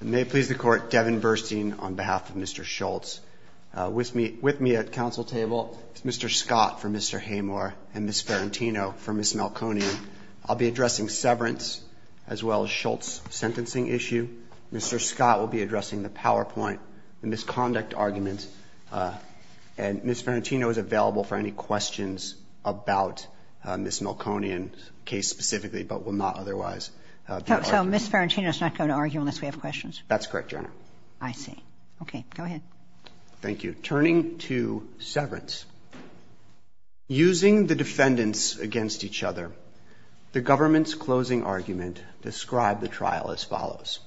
I may please the court Devin Burstein on behalf of Mr. Shultz with me with me at council table Mr. Scott for Mr. Haymore and Miss Farentino for Miss Malconian I'll be addressing severance as well as Shultz sentencing issue Mr. Scott will be addressing the PowerPoint and this conduct argument and Miss Farentino is available for any questions about Miss Malconian case specifically but will not otherwise so Miss Farentino's not going to argue unless we have questions that's correct your honor I see okay go ahead thank you turning to severance using the defendants against each other the government's closing argument described the trial as follows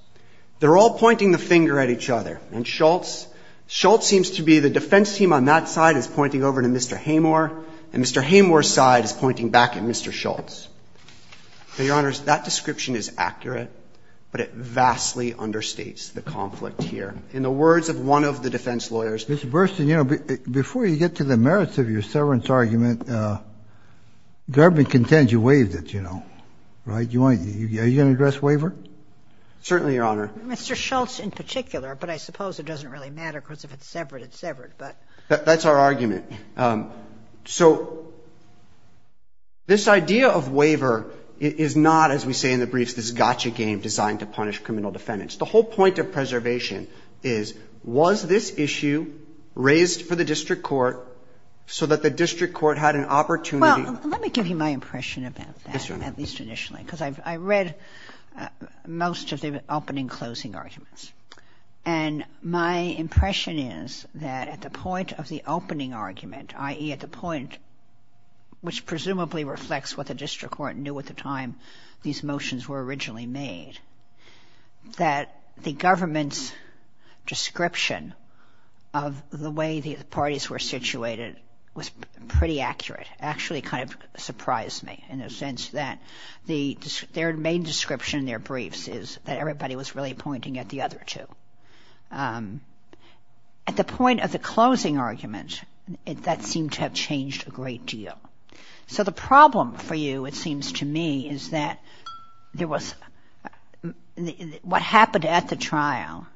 they're all pointing the finger at each other and Shultz Shultz seems to be the defense team on that side is pointing over to Mr. Haymore and Mr. Haymore side is pointing back at Mr. Shultz your honors that description is accurate but it vastly understates the conflict here in the words of one of the defense lawyers Mr. Burstein you know before you get to the merits of your severance argument the government contends you waived it you know right you want to address waiver certainly your honor Mr. Shultz in particular but I suppose it doesn't really matter because if it's severed it's severed but that's our argument so this idea of waiver is not as we say in the briefs this gotcha game designed to punish criminal defendants the whole point of preservation is was this issue raised for the district court so that the district court had an opportunity let me give you my impression about this one at least initially because I've read most of the opening closing arguments and my impression is that at the point of the opening argument ie at the point which presumably reflects what the district court knew at the time these motions were originally made that the government's description of the way the parties were situated was pretty accurate actually kind of surprised me in a sense that the their main description their briefs is that everybody was really pointing at the other two at the point of the closing argument it that seemed to have changed a great deal so the problem for you it seems to me is that there was what happened at the trial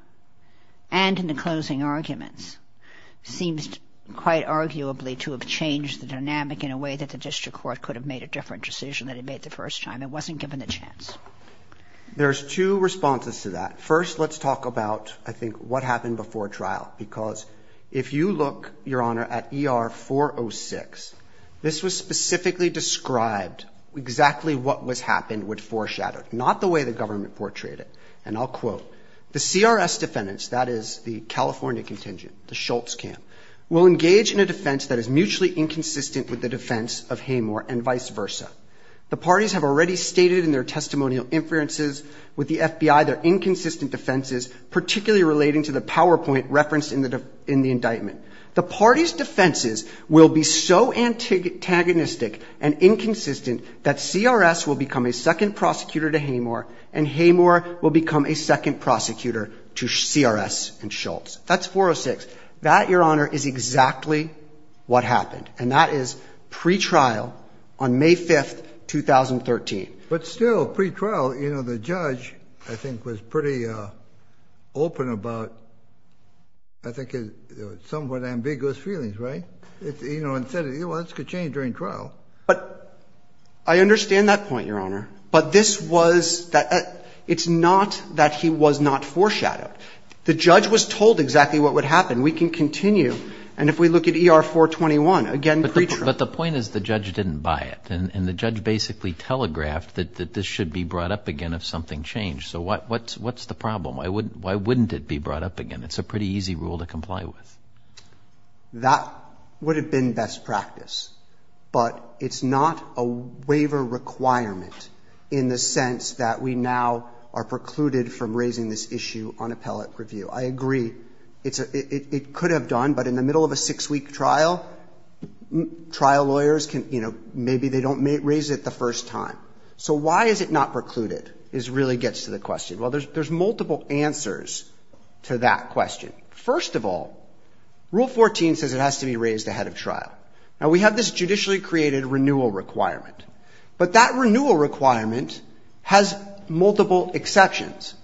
and in the closing arguments seems quite arguably to have changed the way that the district court could have made a different decision that it made the first time it wasn't given a chance there's two responses to that first let's talk about I think what happened before trial because if you look your honor at er 406 this was specifically described exactly what was happened would foreshadow not the way the government portrayed it and I'll quote the CRS defendants that is the California contingent the Schultz camp will engage in a defense that is mutually inconsistent with the defense of Hamer and vice versa the parties have already stated in their testimonial inferences with the FBI their inconsistent defenses particularly relating to the PowerPoint reference in the in the indictment the party's defenses will be so antagonistic and inconsistent that CRS will become a second prosecutor to Hamer and Hamer will become a second prosecutor to CRS and Schultz that's 406 that your honor is exactly what happened and that is pretrial on May 5th 2013 but still pretrial you know the judge I think was pretty open about I think is somewhat ambiguous feelings right if you know and said it was could change during trial but I understand that point your honor but this was that it's not that he was not foreshadowed the judge was told exactly what would happen we can continue and if we look at er 421 again but the point is the judge didn't buy it and the judge basically telegraphed that this should be brought up again if something changed so what what's what's the problem I wouldn't why wouldn't it be brought up again it's a pretty easy rule to comply with that would have been best practice but it's not a waiver requirement in the sense that we now are precluded from raising this issue on appellate review I agree it's a it could have done but in the middle of a six-week trial trial lawyers can you know maybe they don't raise it the first time so why is it not precluded is really gets to the question well there's there's multiple answers to that question first of all rule 14 says it has to be raised ahead of trial now we have this judicially created renewal requirement but that renewal requirement has multiple exceptions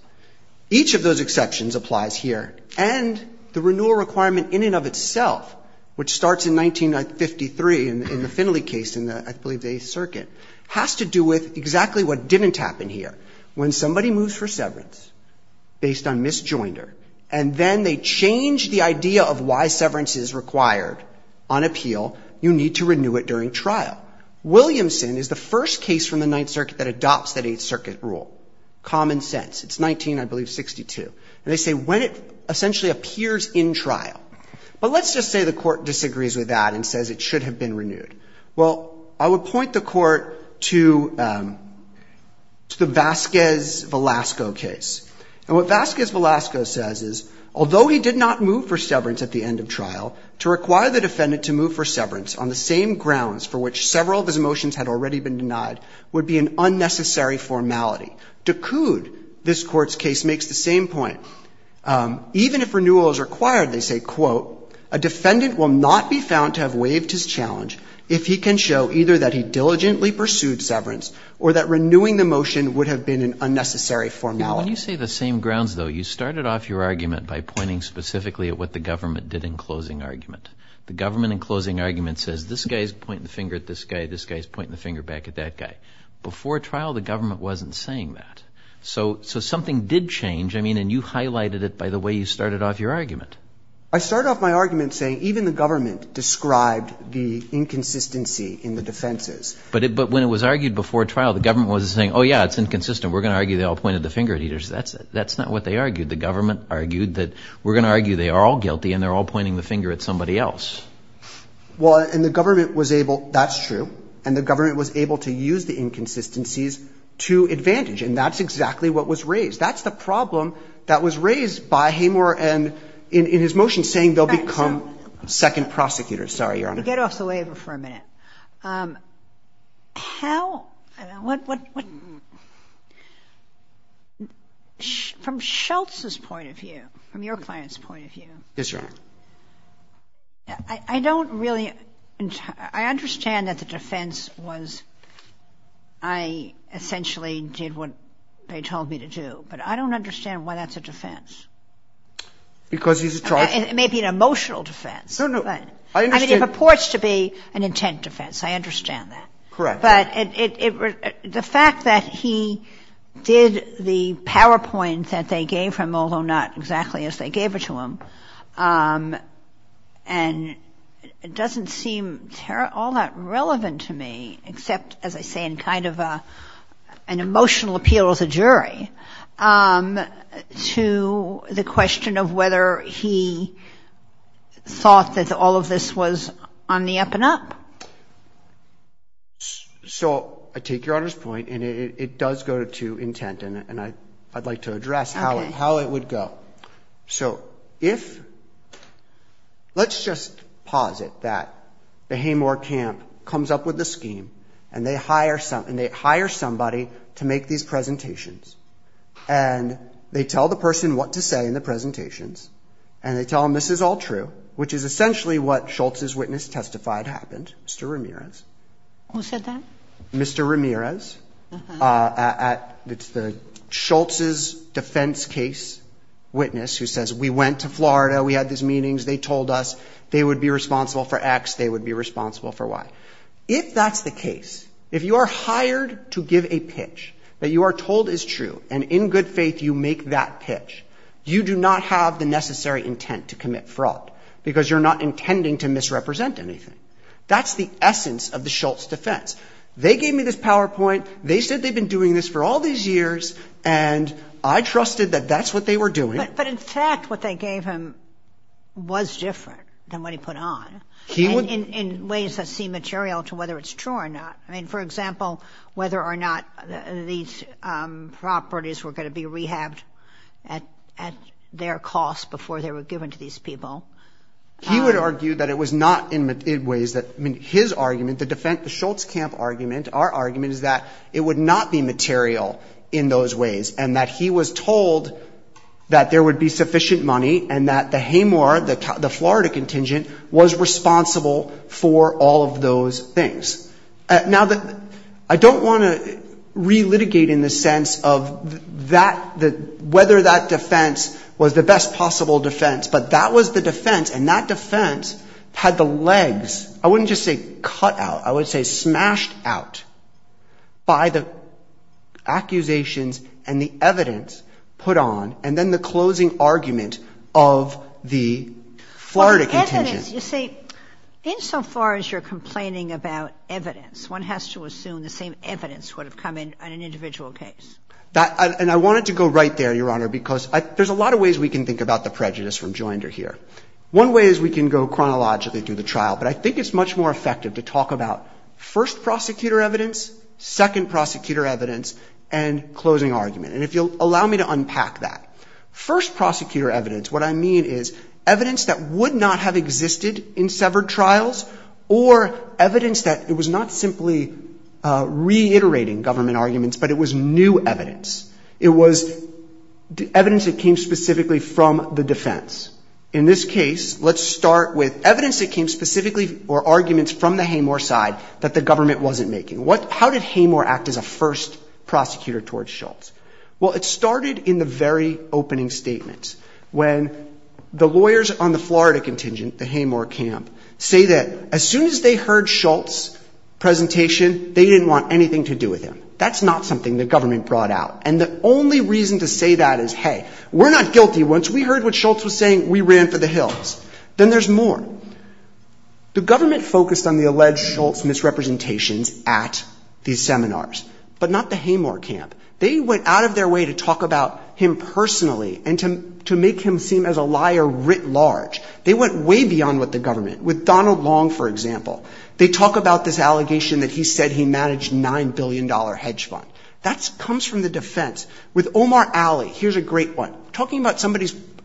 each of those exceptions applies here and the renewal requirement in and of itself which starts in 1953 and in the Finley case in the I believe a circuit has to do with exactly what didn't happen here when somebody moves for severance based on misjoinder and then they change the idea of why severance is required on appeal you need to renew it during trial Williamson is the first case from the Ninth Circuit that adopts that 8th Circuit rule common sense it's 19 I believe 62 and they say when it essentially appears in trial but let's just say the court disagrees with that and says it should have been renewed well I would point the court to the Vasquez Velasco case and what Vasquez Velasco says is although he did not move for severance at the end of trial to require the defendant to move for severance on the same grounds for which several of his emotions had already been denied would be an unnecessary formality to coud this court's case makes the same point even if renewal is required they say quote a defendant will not be found to have waived his challenge if he can show either that he diligently pursued severance or that renewing the motion would have been an unnecessary formality you say the same grounds though you started off your argument by pointing specifically at what the argument the government and closing argument says this guy's pointing the finger at this guy this guy's pointing the finger back at that guy before trial the government wasn't saying that so so something did change I mean and you highlighted it by the way you started off your argument I started off my argument saying even the government described the inconsistency in the defenses but it but when it was argued before trial the government was saying oh yeah it's inconsistent we're gonna argue they all pointed the finger at eaters that's that's not what they argued the government argued that we're all pointing the finger at somebody else well and the government was able that's true and the government was able to use the inconsistencies to advantage and that's exactly what was raised that's the problem that was raised by Hamer and in in his motion saying they'll become second prosecutors sorry your honor get off the labor for a minute how what from Schultz's point of I don't really I understand that the defense was I essentially did what they told me to do but I don't understand why that's a defense because it may be an emotional defense no no I mean it purports to be an intent defense I understand that correct but it was the fact that he did the PowerPoint that they gave him although not exactly as they gave it to him and it doesn't seem all that relevant to me except as I say in kind of a an emotional appeal as a jury to the question of whether he thought that all of this was on the up and up so I take your honor's point and it does go to intent and I I'd like to how it would go so if let's just pause it that the Haymore camp comes up with the scheme and they hire something they hire somebody to make these presentations and they tell the person what to say in the presentations and they tell him this is all true which is essentially what Schultz's witness testified happened mr. Ramirez who said that mr. Ramirez at it's the Schultz's defense case witness who says we went to Florida we had these meetings they told us they would be responsible for X they would be responsible for Y if that's the case if you are hired to give a pitch that you are told is true and in good faith you make that pitch you do not have the necessary intent to commit fraud because you're not intending to misrepresent anything that's the essence of the Schultz defense they gave me this PowerPoint they said they've been doing this for all these years and I trusted that that's what they were doing but in fact what they gave him was different than what he put on he would in ways that seem material to whether it's true or not I mean for example whether or not these properties were going to be rehabbed at at their costs before they were given to these people he would argue that it was not in ways that I mean his argument the defense the Schultz camp argument our argument is that it would not be material in those ways and that he was told that there would be sufficient money and that the Haymore the Florida contingent was responsible for all of those things now that I don't want to relitigate in the sense of that that whether that defense was the best possible defense but that was the defense and that defense had the legs I wouldn't just say cut out I would say smashed out by the accusations and the evidence put on and then the closing argument of the Florida contingent you see insofar as you're complaining about evidence one has to assume the same evidence would have come in on an individual case that and I wanted to go right there your honor because there's a lot of ways we can think about the prejudice from Joinder here one way is we can go chronologically through the trial but I think it's much more effective to talk about first prosecutor evidence second prosecutor evidence and closing argument and if you'll allow me to unpack that first prosecutor evidence what I mean is evidence that would not have existed in severed trials or evidence that it was not simply reiterating government arguments but it was new evidence it was the evidence that came specifically from the defense in this case let's start with evidence that came specifically or arguments from the Haymore side that the government wasn't making what how did Haymore act as a first prosecutor towards Schultz well it started in the very opening statements when the lawyers on the Florida contingent the Haymore camp say that as soon as they heard Schultz presentation they didn't want anything to do with him that's not something the government brought out and the only reason to say that is hey we're not guilty once we heard what Schultz was saying we ran for the hills then there's more the government focused on the alleged Schultz misrepresentations at these seminars but not the Haymore camp they went out of their way to talk about him personally and to make him seem as a liar writ large they went way beyond what the government with Donald Long for example they talk about this allegation that he said he managed nine billion dollar hedge fund that's comes from the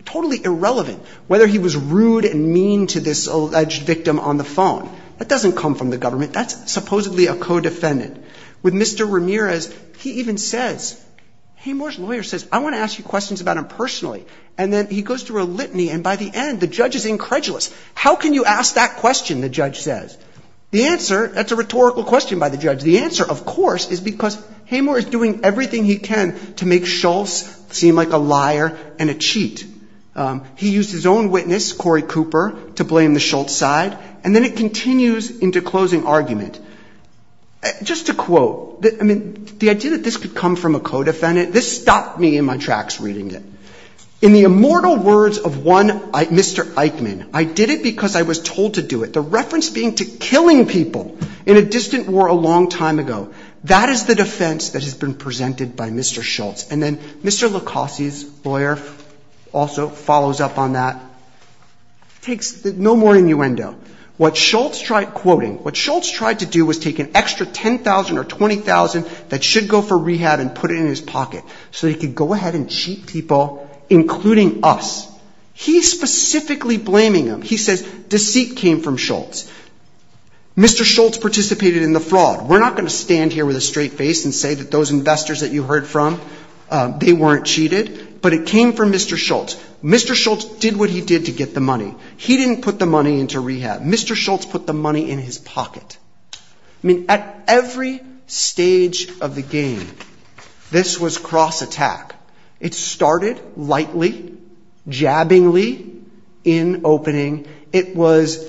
totally irrelevant whether he was rude and mean to this alleged victim on the phone that doesn't come from the government that's supposedly a co defendant with mr. Ramirez he even says Haymore's lawyer says I want to ask you questions about him personally and then he goes to a litany and by the end the judge is incredulous how can you ask that question the judge says the answer that's a rhetorical question by the judge the answer of course is because Haymore is doing everything he can to make Schultz seem like a liar and a he used his own witness Corey Cooper to blame the Schultz side and then it continues into closing argument just to quote that I mean the idea that this could come from a co-defendant this stopped me in my tracks reading it in the immortal words of one mr. Eichmann I did it because I was told to do it the reference being to killing people in a distant war a long time ago that is the defense that has been presented by mr. Schultz and then mr. Lacoste lawyer also follows up on that takes no more innuendo what Schultz tried quoting what Schultz tried to do was take an extra 10,000 or 20,000 that should go for rehab and put it in his pocket so he could go ahead and cheat people including us he's specifically blaming him he says deceit came from Schultz mr. Schultz participated in the fraud we're not going to stand here with a straight face and say that those investors that you heard from they weren't cheated but it came from mr. Schultz mr. Schultz did what he did to get the money he didn't put the money into rehab mr. Schultz put the money in his pocket I mean at every stage of the game this was cross-attack it started lightly jabbingly in opening it was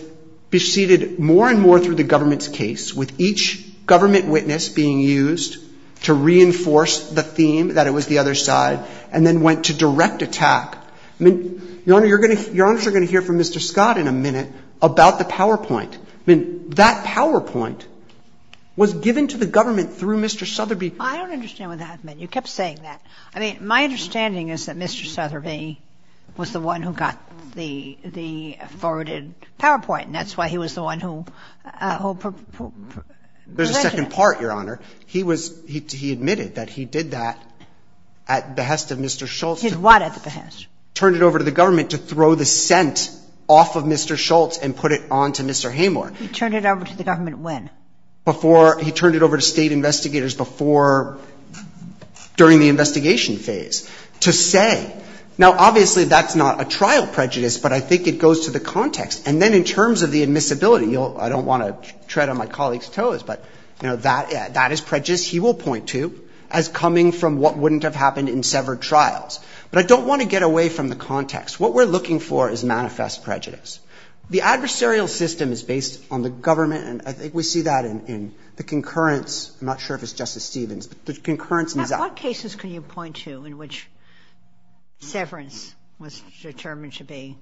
besieged more and more through the government's case with each government witness being used to reinforce the other side and then went to direct attack I mean your honor you're going to you're also going to hear from mr. Scott in a minute about the PowerPoint I mean that PowerPoint was given to the government through mr. Sotheby I don't understand what that meant you kept saying that I mean my understanding is that mr. Sotheby was the one who got the the forwarded PowerPoint and that's why he was the one who there's a second part your honor he was he admitted that he did that at behest of mr. Schultz did what at the behest turned it over to the government to throw the scent off of mr. Schultz and put it on to mr. Hamer turn it over to the government when before he turned it over to state investigators before during the investigation phase to say now obviously that's not a trial prejudice but I think it goes to the context and then in terms of the admissibility you'll I don't want to tread on my colleagues toes but you know that that is prejudice he will point to as coming from what wouldn't have happened in severed trials but I don't want to get away from the context what we're looking for is manifest prejudice the adversarial system is based on the government and I think we see that in the concurrence I'm not sure if it's justice Stevens but the concurrence is that what cases can you point to in which severance was determined to be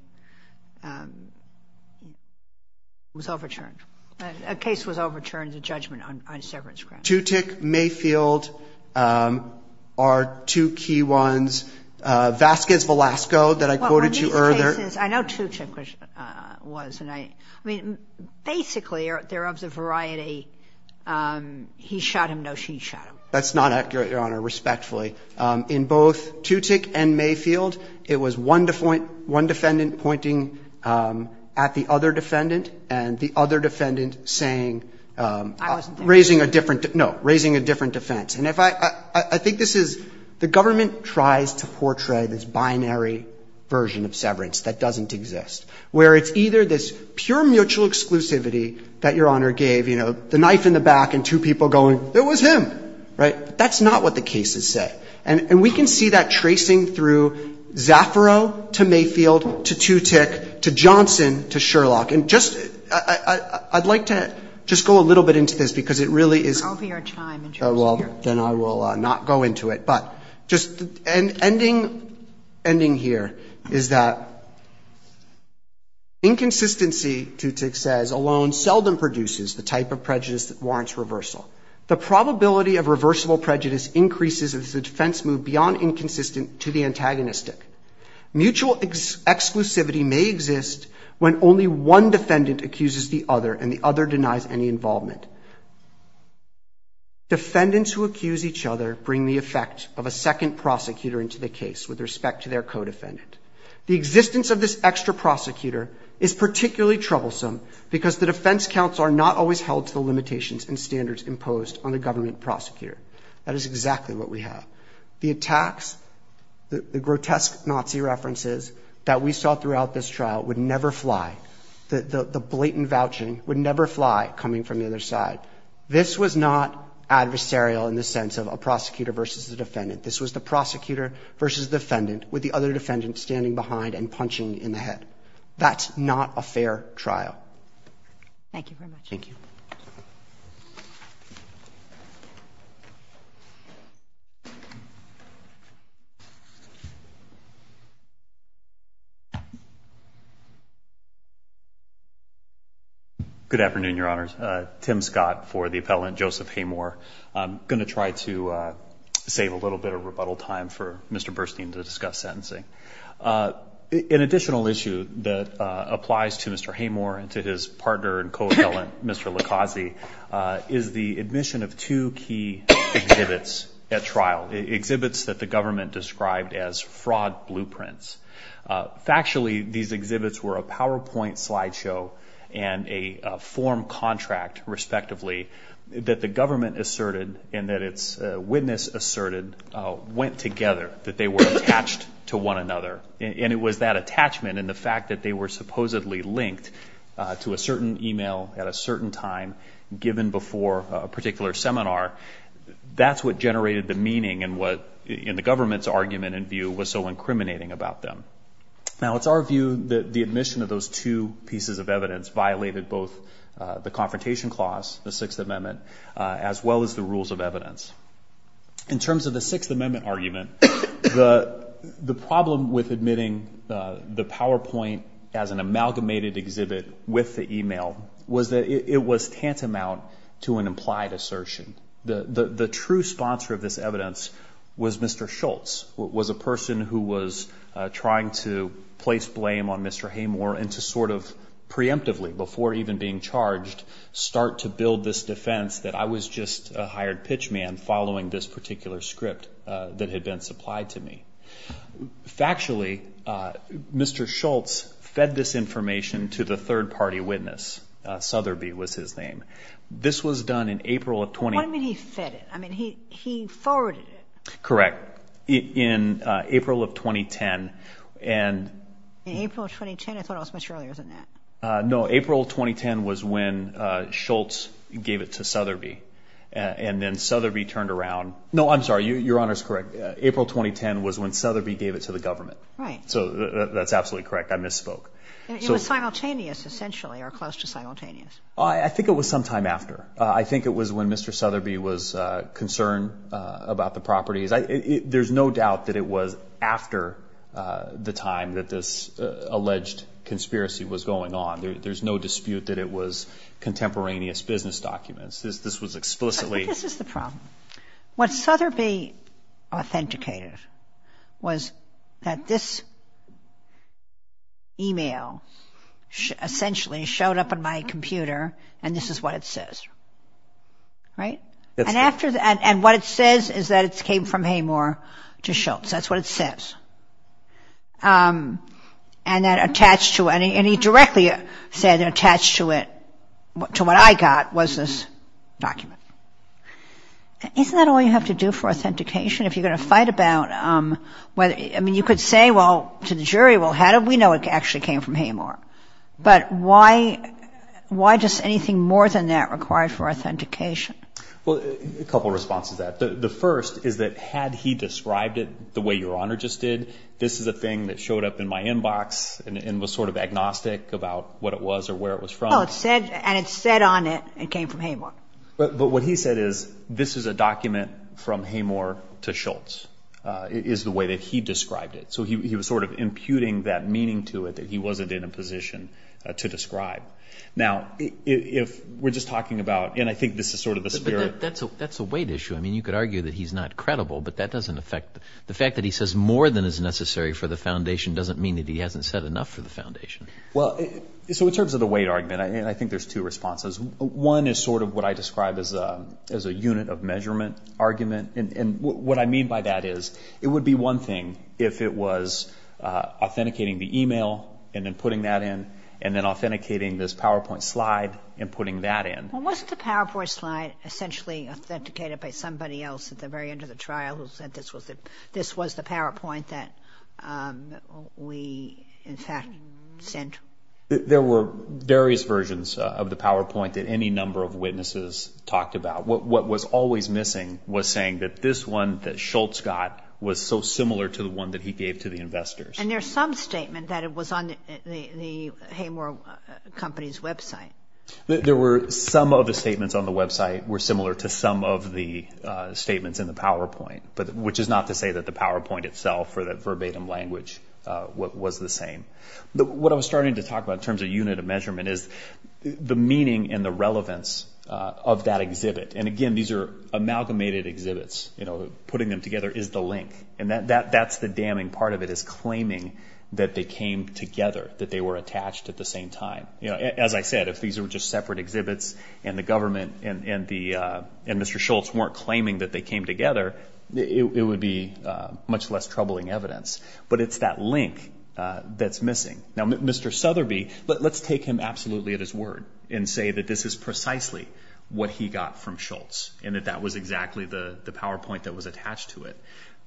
was overturned a case was overturned a judgment on severance grant to tick Mayfield are two key ones Vasquez Velasco that I quoted you earlier I know to check which was and I mean basically there of the variety he shot him no she shot him that's not accurate your honor respectfully in both to tick and May pointing at the other defendant and the other defendant saying raising a different no raising a different defense and if I I think this is the government tries to portray this binary version of severance that doesn't exist where it's either this pure mutual exclusivity that your honor gave you know the knife in the back and two people going there was him right that's not what the cases say and we can see that tracing through Zafiro to Mayfield to to tick to Johnson to Sherlock and just I'd like to just go a little bit into this because it really is well then I will not go into it but just and ending ending here is that inconsistency to tick says alone seldom produces the type of prejudice that warrants reversal the probability of reversible prejudice increases as the defense move beyond inconsistent to the antagonistic mutual exclusivity may exist when only one defendant accuses the other and the other denies any involvement defendants who accuse each other bring the effect of a second prosecutor into the case with respect to their co-defendant the existence of this extra prosecutor is particularly troublesome because the defense counsel are not always held to the limitations and standards imposed on the we have the attacks that the grotesque Nazi references that we saw throughout this trial would never fly that the blatant vouching would never fly coming from the other side this was not adversarial in the sense of a prosecutor versus the defendant this was the prosecutor versus defendant with the other defendant standing behind and punching in the head that's not a fair trial thank you very much thank you good afternoon your honors Tim Scott for the appellant Joseph Haymore I'm going to try to save a little bit of rebuttal time for Mr. Burstein to discuss sentencing an additional issue that applies to Mr. Haymore and to his partner and co-appellant Mr. Likazi is the admission of two key exhibits at trial exhibits that the government described as fraud blueprints factually these exhibits were a PowerPoint slideshow and a form contract respectively that the government asserted and that it's witness asserted went together that they were attached to one another and it was that attachment and the fact that they were supposedly linked to a certain email at a certain time given before a particular seminar that's what generated the meaning and what in the government's argument in view was so incriminating about them now it's our view that the admission of those two pieces of evidence violated both the confrontation clause the sixth amendment as well as the rules of amendment argument the the problem with admitting the PowerPoint as an amalgamated exhibit with the email was that it was tantamount to an implied assertion the the true sponsor of this evidence was Mr. Schultz was a person who was trying to place blame on Mr. Haymore and to sort of preemptively before even being charged start to build this defense that I was just a hired pitchman following this particular script that had been supplied to me factually Mr. Schultz fed this information to the third-party witness Sotheby was his name this was done in April of 20... What do you mean he fed it? I mean he forwarded it. Correct. In April of 2010 and... In April of 2010? I thought it was much earlier than that. No, April 2010 was when Schultz gave it to Sotheby and then Sotheby turned around... No, I'm sorry, your honor's correct. April 2010 was when Sotheby gave it to the government. Right. So that's absolutely correct. I misspoke. It was simultaneous essentially or close to simultaneous. I think it was sometime after. I think it was when Mr. Sotheby was concerned about the properties. There's no doubt that it was after the time that this alleged conspiracy was going on. There's no dispute that it was contemporaneous business documents. This was explicitly... I think this is the problem. What Sotheby authenticated was that this email essentially showed up on my computer and this is what it says. Right? And after what I got was this document. Isn't that all you have to do for authentication? If you're going to fight about whether... I mean you could say, well, to the jury, well how do we know it actually came from Haymor? But why does anything more than that require for authentication? Well, a couple responses to that. The first is that had he described it the way your honor just did, this is a thing that showed up in my inbox and was sort of agnostic about what it was or where it was from. And it said on it, it came from Haymor. But what he said is this is a document from Haymor to Schultz is the way that he described it. So he was sort of imputing that meaning to it that he wasn't in a position to describe. Now if we're just talking about... and I think this is sort of the spirit. That's a weight issue. I mean you could argue that he's not credible, but that doesn't affect... the fact that he says more than is necessary for the foundation doesn't mean that he hasn't said enough for the foundation. Well, so in terms of the weight argument, I think there's two responses. One is sort of what I described as a as a unit of measurement argument. And what I mean by that is it would be one thing if it was authenticating the email and then putting that in and then authenticating this PowerPoint slide and putting that in. Well wasn't the PowerPoint slide essentially authenticated by somebody else at the very end of the trial who said this was the PowerPoint that we in fact sent? There were various versions of the PowerPoint that any number of witnesses talked about. What was always missing was saying that this one that Schultz got was so similar to the one that he gave to the investors. And there's some statement that it was on the Haymor company's website. There were some of the statements on the website that were similar to some of the statements in the PowerPoint. But which is not to say that the PowerPoint itself or the verbatim language was the same. But what I was starting to talk about in terms of unit of measurement is the meaning and the relevance of that exhibit. And again, these are amalgamated exhibits. Putting them together is the link. And that's the damning part of it is claiming that they came together, that they were attached at the same time. As I said, if these were just separate exhibits and the and Mr. Schultz weren't claiming that they came together, it would be much less troubling evidence. But it's that link that's missing. Now, Mr. Sotheby, let's take him absolutely at his word and say that this is precisely what he got from Schultz and that that was exactly the PowerPoint that was attached to it.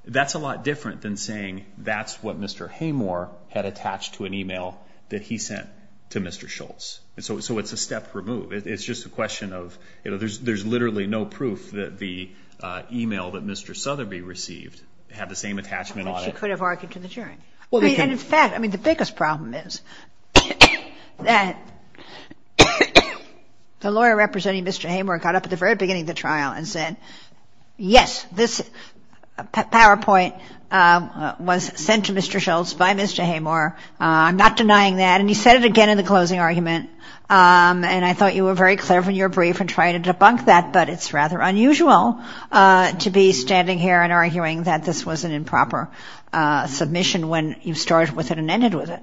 That's a lot different than saying that's what Mr. Haymor had attached to an email that he sent to Mr. Schultz. So it's a step removed. It's just a question of, you know, there's literally no proof that the email that Mr. Sotheby received had the same attachment on it. She could have argued to the jury. And in fact, I mean, the biggest problem is that the lawyer representing Mr. Haymor got up at the very beginning of the trial and said, yes, this PowerPoint was sent to Mr. Schultz by Mr. Haymor. I'm not denying that. And he said it again in the closing argument. And I thought you were very clever in your brief and tried to debunk that. But it's rather unusual to be standing here and arguing that this was an improper submission when you started with it and ended with it.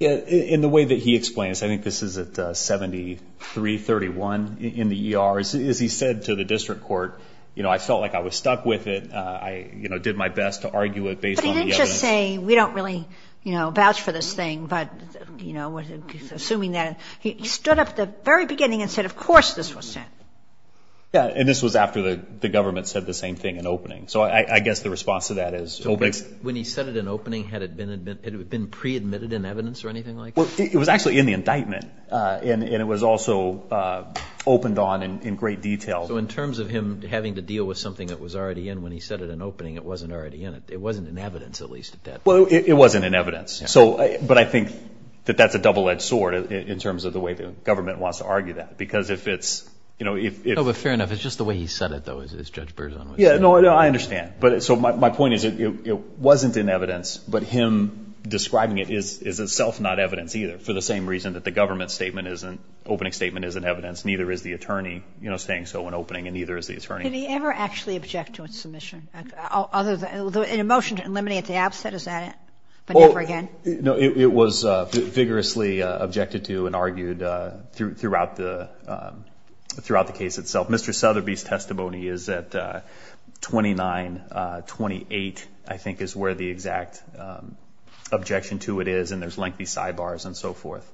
In the way that he explains, I think this is at 73-31 in the ER, is he said to the district court, you know, I felt like I was stuck with it. I did my best to argue it based on the evidence. But he didn't just say, we don't really, you know, vouch for this thing. But, you know, assuming that, he stood up at the very beginning and said, of course, this was sent. Yeah. And this was after the government said the same thing in opening. So I guess the response to that is... So when he said it in opening, had it been pre-admitted in evidence or anything like that? Well, it was actually in the indictment. And it was also opened on in great detail. So in terms of him having to deal with something that was already in when he said it in opening, it wasn't already in it. It wasn't in evidence, at least at that point. Well, it wasn't in evidence. So, but I think that that's a double-edged sword in terms of the way the government wants to argue that. Because if it's, you know, if... Oh, but fair enough. It's just the way he said it, though, as Judge Berzon would say. Yeah, no, I understand. But so my point is, it wasn't in evidence, but him describing it is itself not evidence either, for the same reason that the government statement isn't, opening statement isn't evidence, neither is the attorney, you know, saying so in opening, and neither is the attorney. Can he ever actually object to a submission? Other than, in a motion to absent, is that it? But never again? No, it was vigorously objected to and argued throughout the case itself. Mr. Sotheby's testimony is at 29-28, I think is where the exact objection to it is, and there's lengthy sidebars and so forth.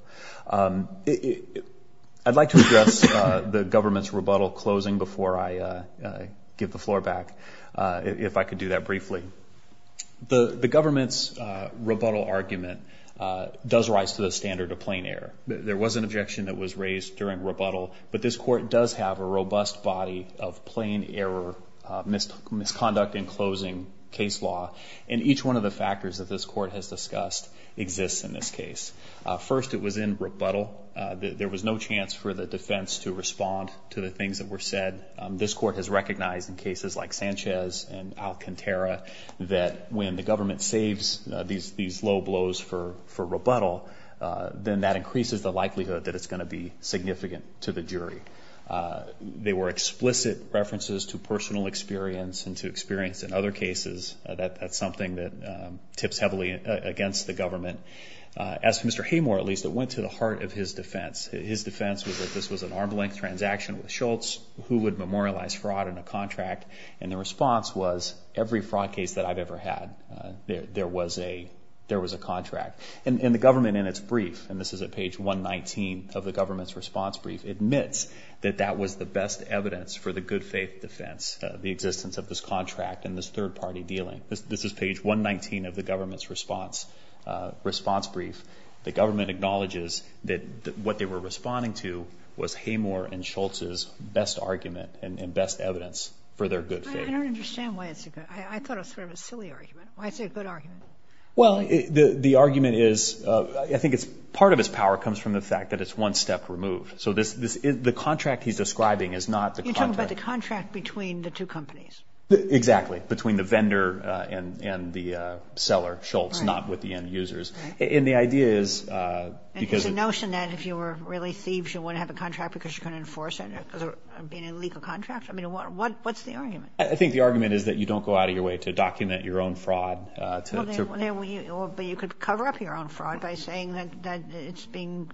I'd like to address the government's rebuttal closing before I give the floor back, if I could do that briefly. The government's rebuttal argument does rise to the standard of plain error. There was an objection that was raised during rebuttal, but this court does have a robust body of plain error, misconduct in closing case law, and each one of the factors that this court has discussed exists in this case. First, it was in rebuttal. There was no chance for the defense to respond to the things that were said. This court has recognized in cases like Sanchez and that when the government saves these low blows for rebuttal, then that increases the likelihood that it's going to be significant to the jury. They were explicit references to personal experience and to experience in other cases. That's something that tips heavily against the government. As for Mr. Haymore, at least, it went to the heart of his defense. His defense was that this was an arm's length transaction with Schultz, who would had. There was a contract. And the government, in its brief, and this is at page 119 of the government's response brief, admits that that was the best evidence for the good faith defense, the existence of this contract and this third party dealing. This is page 119 of the government's response brief. The government acknowledges that what they were responding to was Haymore and Schultz's best argument and best evidence for their good faith. I don't understand why it's a good, I thought it was sort of a silly argument. Why is it a good argument? Well, the argument is, I think it's, part of its power comes from the fact that it's one step removed. So the contract he's describing is not the contract. You're talking about the contract between the two companies. Exactly. Between the vendor and the seller, Schultz, not with the end users. And the idea is because... It's a notion that if you were really thieves, you wouldn't have a contract because you couldn't enforce it, because it would be an illegal contract? What's the argument? I think the argument is that you don't go out of your way to document your own fraud. But you could cover up your own fraud by saying that it's being,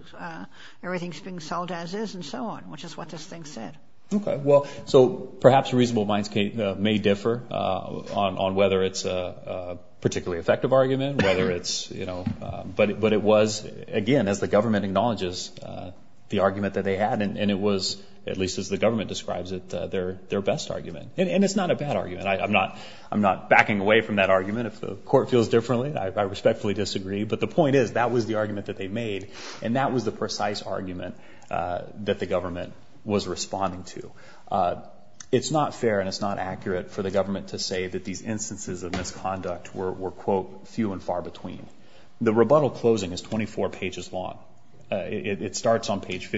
everything's being sold as is and so on, which is what this thing said. Okay, well, so perhaps reasonable minds may differ on whether it's a particularly effective argument, whether it's, you know, but it was, again, as the government acknowledges, the argument that they had and it was, at least as the government describes it, their best argument. And it's not a bad argument. I'm not backing away from that argument. If the court feels differently, I respectfully disagree. But the point is, that was the argument that they made and that was the precise argument that the government was responding to. It's not fair and it's not accurate for the government to say that these instances of misconduct were quote, few and far between. The rebuttal closing is 24 pages long. It starts on page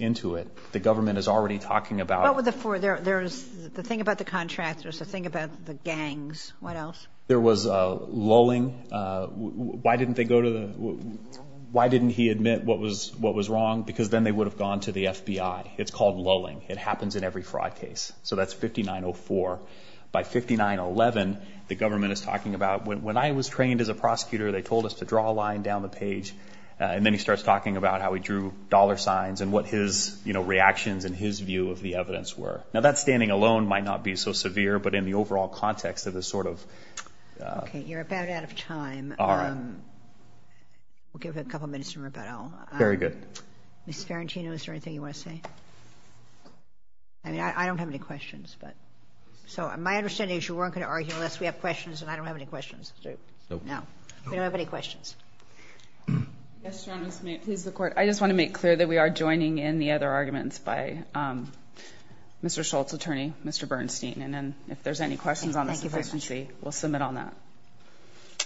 into it. The government is already talking about... What were the four? There's the thing about the contractors, the thing about the gangs. What else? There was a lulling. Why didn't they go to the, why didn't he admit what was, what was wrong? Because then they would have gone to the FBI. It's called lulling. It happens in every fraud case. So that's 5904. By 5911, the government is talking about, when I was trained as a prosecutor, they told us to draw a line down the page. And then he said, what were his reactions and his view of the evidence were? Now that standing alone might not be so severe, but in the overall context of the sort of... Okay. You're about out of time. All right. We'll give it a couple minutes to rebuttal. Very good. Ms. Farantino, is there anything you want to say? I mean, I don't have any questions, but. So my understanding is you weren't going to argue unless we have questions, and I don't have any questions. No. We don't have any questions. Yes, Your Honor, may it please the court. I just want to make clear that we are joining in the other arguments by Mr. Schultz's attorney, Mr. Bernstein. And then if there's any questions on this deficiency, we'll submit on that.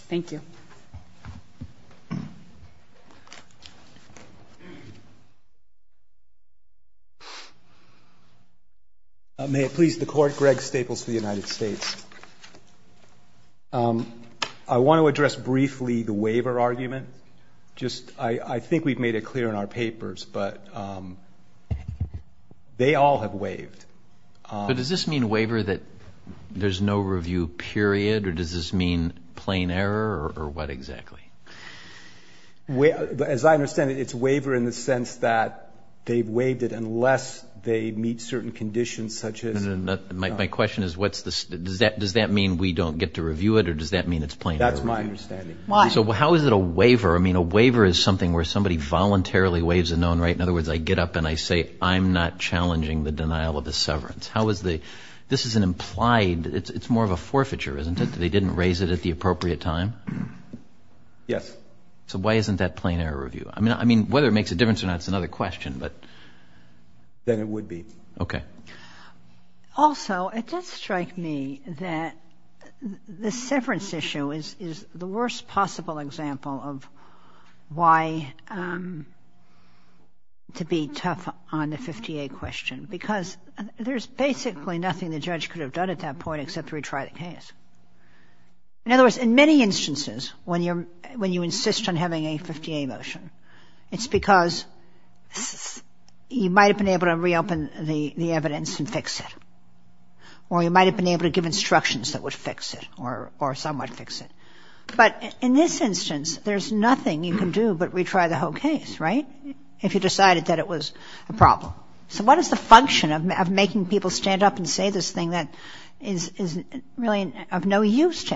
Thank you. May it please the court. Greg Staples for the United States. I want to address briefly the waiver argument. Just, I think we've made it clear in our papers, but they all have waived. But does this mean waiver that there's no review period, or does this mean plain error, or what exactly? As I understand it, it's waiver in the sense that they've waived it unless they meet certain conditions such as... My question is, does that mean we don't get to review it, or does that mean it's plain error? That's my understanding. Why? So how is it a waiver? I mean, a waiver is something where somebody voluntarily waives a known right. In other words, I get up and I say, I'm not challenging the denial of the severance. How is the, this is an implied, it's more of a forfeiture, isn't it, that they didn't raise it at the appropriate time? Yes. So why isn't that plain error review? I mean, whether it makes a difference or not is another question, but... Then it would be. Okay. Also, it does strike me that the severance issue is the worst possible example of why to be tough on the 50A question, because there's basically nothing the judge could have done at that point except retry the case. In other words, in many instances when you're, when you insist on having a 50A motion, it's because you might have been able to reopen the evidence and fix it, or you might have been able to give instructions that would fix it, or some might fix it. But in this instance, there's nothing you can do but retry the whole case, right? If you decided that it was a problem. So what is the function of making people stand up and say this thing that is really of no use to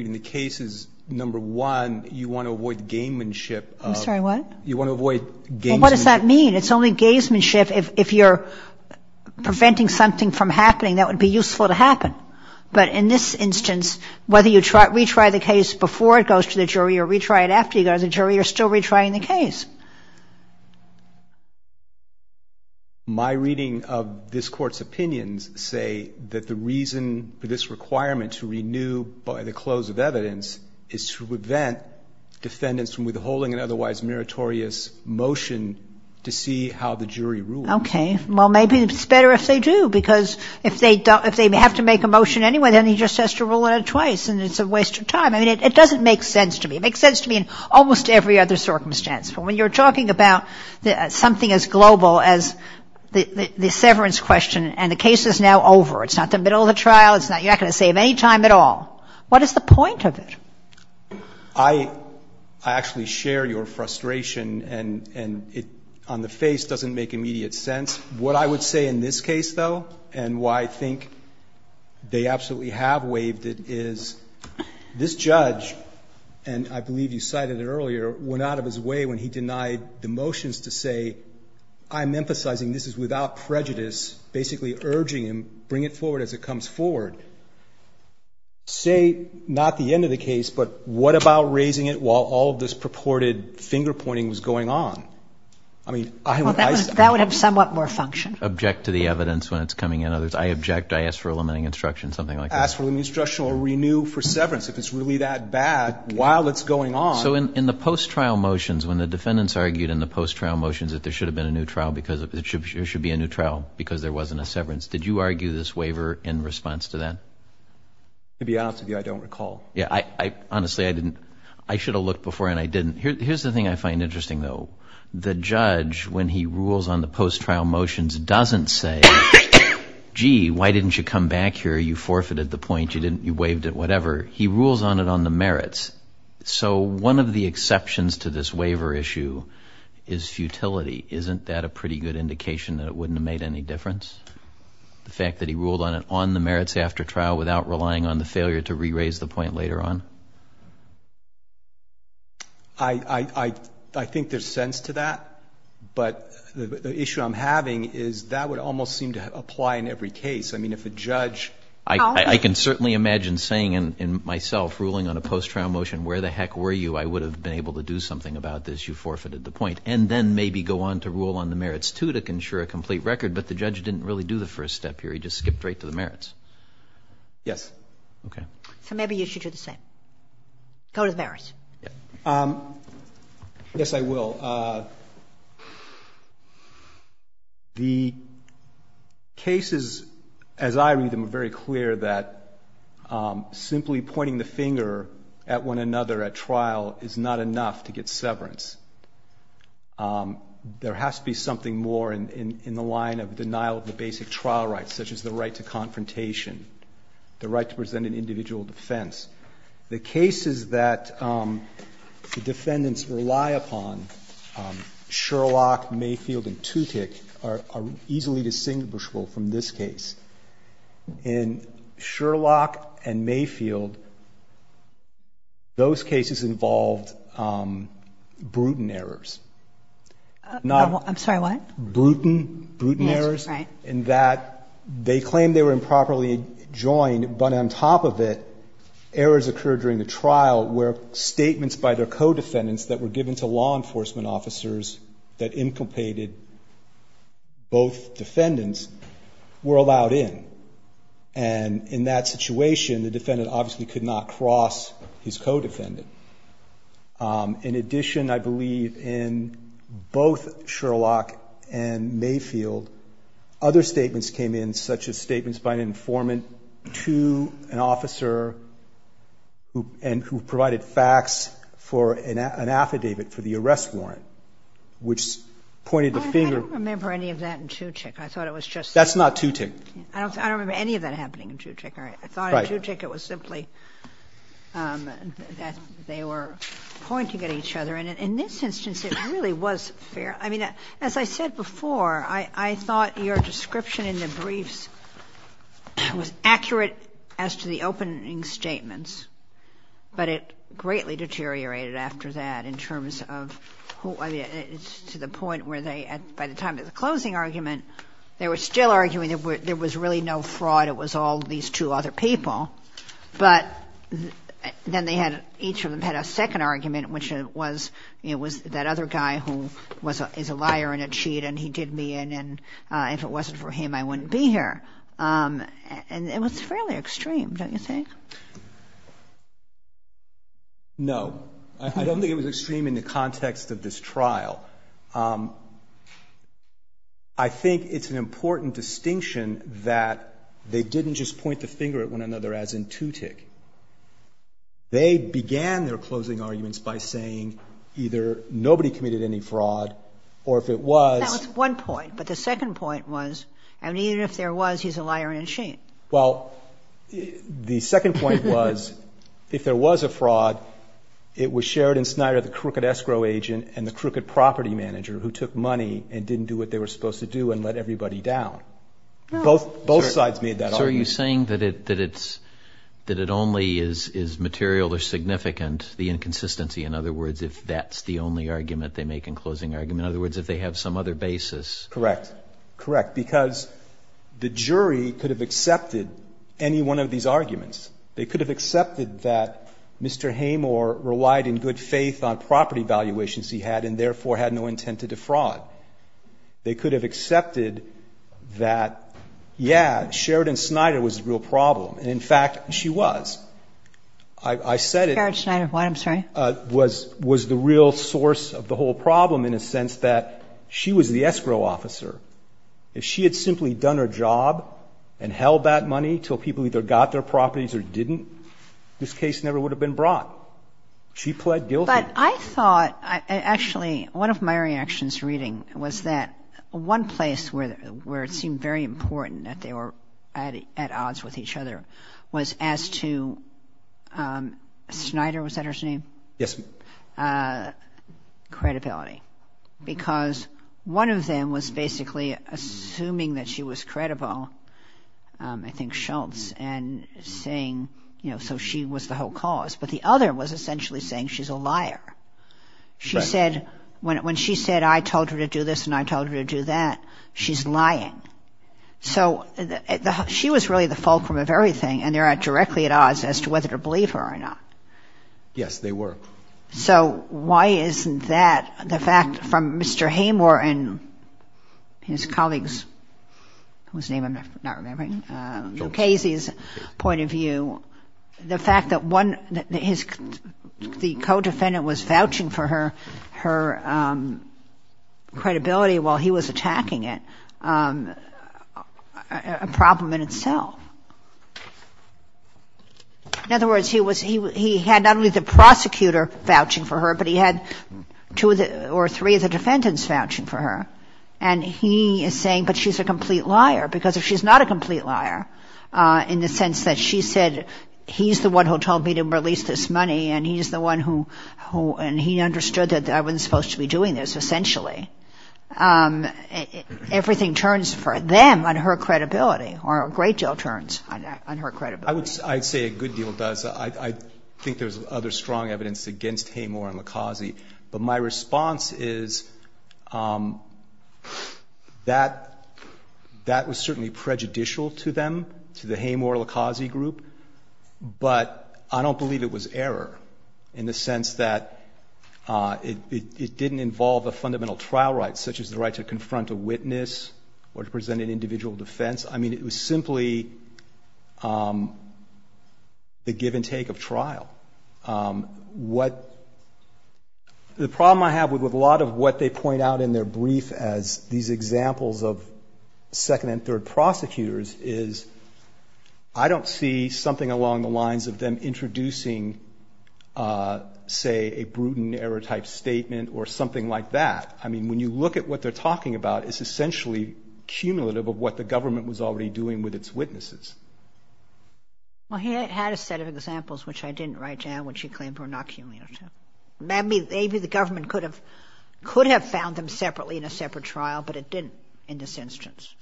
me in the case is, number one, you want to avoid gamemanship. I'm sorry, what? You want to avoid gamesmanship. Well, what does that mean? It's only gamesmanship if you're preventing something from happening that would be useful to happen. But in this instance, whether you retry the case before it goes to the jury or retry it after you go to the jury, you're still retrying the case. My reading of this Court's opinions say that the reason for this requirement to renew by the close of evidence is to prevent defendants from withholding an otherwise meritorious motion to see how the jury rules. Okay. Well, maybe it's better if they do, because if they have to make a motion anyway, then he just has to rule it twice, and it's a waste of time. I mean, it doesn't make sense to me. It makes sense to me in almost every other circumstance. But when you're talking about something as global as the severance question and the case is now over, it's not the middle of the trial, you're not going to save any time at all. What is the point of it? I actually share your frustration, and it on the face doesn't make immediate sense. What I would say in this case, though, and why I think they absolutely have waived it, is this judge, and I believe you cited it earlier, went out of his way when he denied the motions to say, I'm emphasizing this is without prejudice, basically urging him, bring it forward as it comes forward. Say, not the end of the case, but what about raising it while all of this purported finger-pointing was going on? I mean, I would... That would have somewhat more function. Object to the evidence when it's coming in. I object, I ask for a limiting instruction, something like that. Ask for a limiting instruction or renew for severance if it's really that bad while it's going on. So in the post-trial motions, when the defendants argued in the post-trial motions that there should have been a new trial because it should be a new trial because there wasn't a severance, did you argue this waiver in response to that? To be honest with you, I don't recall. Yeah, I honestly, I didn't. I should have looked before and I didn't. Here's the thing I find interesting, though. The judge, when he rules on the post-trial motions, doesn't say, gee, why didn't you come back here? You forfeited the point. You didn't, you waived it, whatever. He rules on it on the merits. So one of the exceptions to this waiver issue is futility. Isn't that a pretty good difference? The fact that he ruled on it on the merits after trial without relying on the failure to re-raise the point later on? I think there's sense to that, but the issue I'm having is that would almost seem to apply in every case. I mean, if a judge... I can certainly imagine saying in myself, ruling on a post-trial motion, where the heck were you? I would have been able to do something about this. You forfeited the point. And then maybe go on to rule on the merits too to say, gee, the judge didn't really do the first step here. He just skipped right to the merits. Yes. Okay. So maybe you should do the same. Go to the merits. Yes, I will. The cases, as I read them, are very clear that simply pointing the finger at one another at trial is not enough to get severance. There has to be something more in the line of denial of the basic trial rights, such as the right to confrontation, the right to present an individual defense. The cases that the defendants rely upon, Sherlock, Mayfield, and Tutick, are easily distinguishable from this case. In Sherlock and Mayfield, those cases involved brutal errors. I'm sorry, what? Brutal errors in that they claimed they were improperly joined, but on top of it, errors occurred during the trial where statements by their co-defendants that were given to law enforcement officers that inculcated both defendants were allowed in. And in that situation, the defendant obviously could not cross his co-defendant. In addition, I believe in both Sherlock and Mayfield, other statements came in, such as statements by an informant to an officer and who provided facts for an affidavit for the arrest warrant, which pointed the finger I don't remember any of that in Tutick. I thought it was just That's not Tutick. I don't remember any of that happening in Tutick. I thought in Tutick it was simply that they were pointing at each other. And in this instance, it really was fair. I mean, as I said before, I thought your description in the briefs was accurate as to the opening statements, but it greatly deteriorated after that in terms of who to the point where they, by the time of the closing argument, they were still fraud. It was all these two other people. But then they had each of them had a second argument, which was it was that other guy who is a liar and a cheat and he did me in and if it wasn't for him, I wouldn't be here. And it was fairly extreme, don't you think? No. I don't think it was extreme in the context of this trial. I think it's an important distinction that they didn't just point the finger at one another as in Tutick. They began their closing arguments by saying either nobody committed any fraud or if it was That was one point. But the second point was, I mean, even if there was, he's a liar and a cheat. Well, the second point was, if there was a fraud, it was Sheridan Snyder, the crooked escrow agent and the crooked property manager who took money and didn't do what they were supposed to do. Both sides made that argument. So are you saying that it only is material or significant, the inconsistency? In other words, if that's the only argument they make in closing argument. In other words, if they have some other basis. Correct. Correct. Because the jury could have accepted any one of these arguments. They could have accepted that Mr. Hamor relied in good faith on property valuations he had and therefore had no intent to defraud. They could have accepted that, yeah, Sheridan Snyder was the real problem. And in fact, she was. I said it was the real source of the whole problem in a sense that she was the escrow officer. If she had simply done her job and held that money till people either got their properties or didn't, this case never would have been brought. She pled guilty. But I thought, actually, one of my reactions to reading was that one place where it seemed very important that they were at odds with each other was as to Snyder, was that her name? Credibility. Because one of them was basically assuming that she was credible, I think Schultz, and saying, you know, so she was the whole cause. But the other was essentially saying she's a liar. She said, when she said, I told her to do this and I told her to do that, she's lying. So she was really the fulcrum of everything and they are directly at odds as to whether to believe her or not. Yes, they were. So why isn't that the fact from Mr. Hamor and his colleagues, whose name I'm not remembering, Lucchesi's point of view, the fact that the co-defendant was vouching for her credibility while he was attacking it, a problem in itself. In other words, he had not only the prosecutor vouching for her, but he had two or three of the defendants vouching for her. And he is saying, but she's a complete liar. Because if she's not a complete liar, in the sense that she said, he's the one who told me to release this money and he's the one who, and he understood that I wasn't supposed to be doing this, essentially. Everything turns for them on her credibility, or a great deal turns on her credibility. I'd say a good deal does. I think there's other strong evidence against Hamor and Lucchesi. But my response is that that was certainly prejudicial to them, to the Hamor and Lucchesi group. But I don't believe it was error, in the sense that it didn't involve a fundamental trial right, such as the right to confront a witness or to present an individual defense. I mean, it was simply the give and take of trial. The problem I have with a lot of what they point out in their brief as these examples of second and third prosecutors is, I don't see something along the lines of them introducing, say a prudent error type statement or something like that. I mean, when you look at what they're talking about, it's essentially cumulative of what the government was already doing with its witnesses. Well, he had a set of examples, which I didn't write down, which he claimed were not cumulative. Maybe the government could have found them separately in a separate trial, but it didn't in this instance.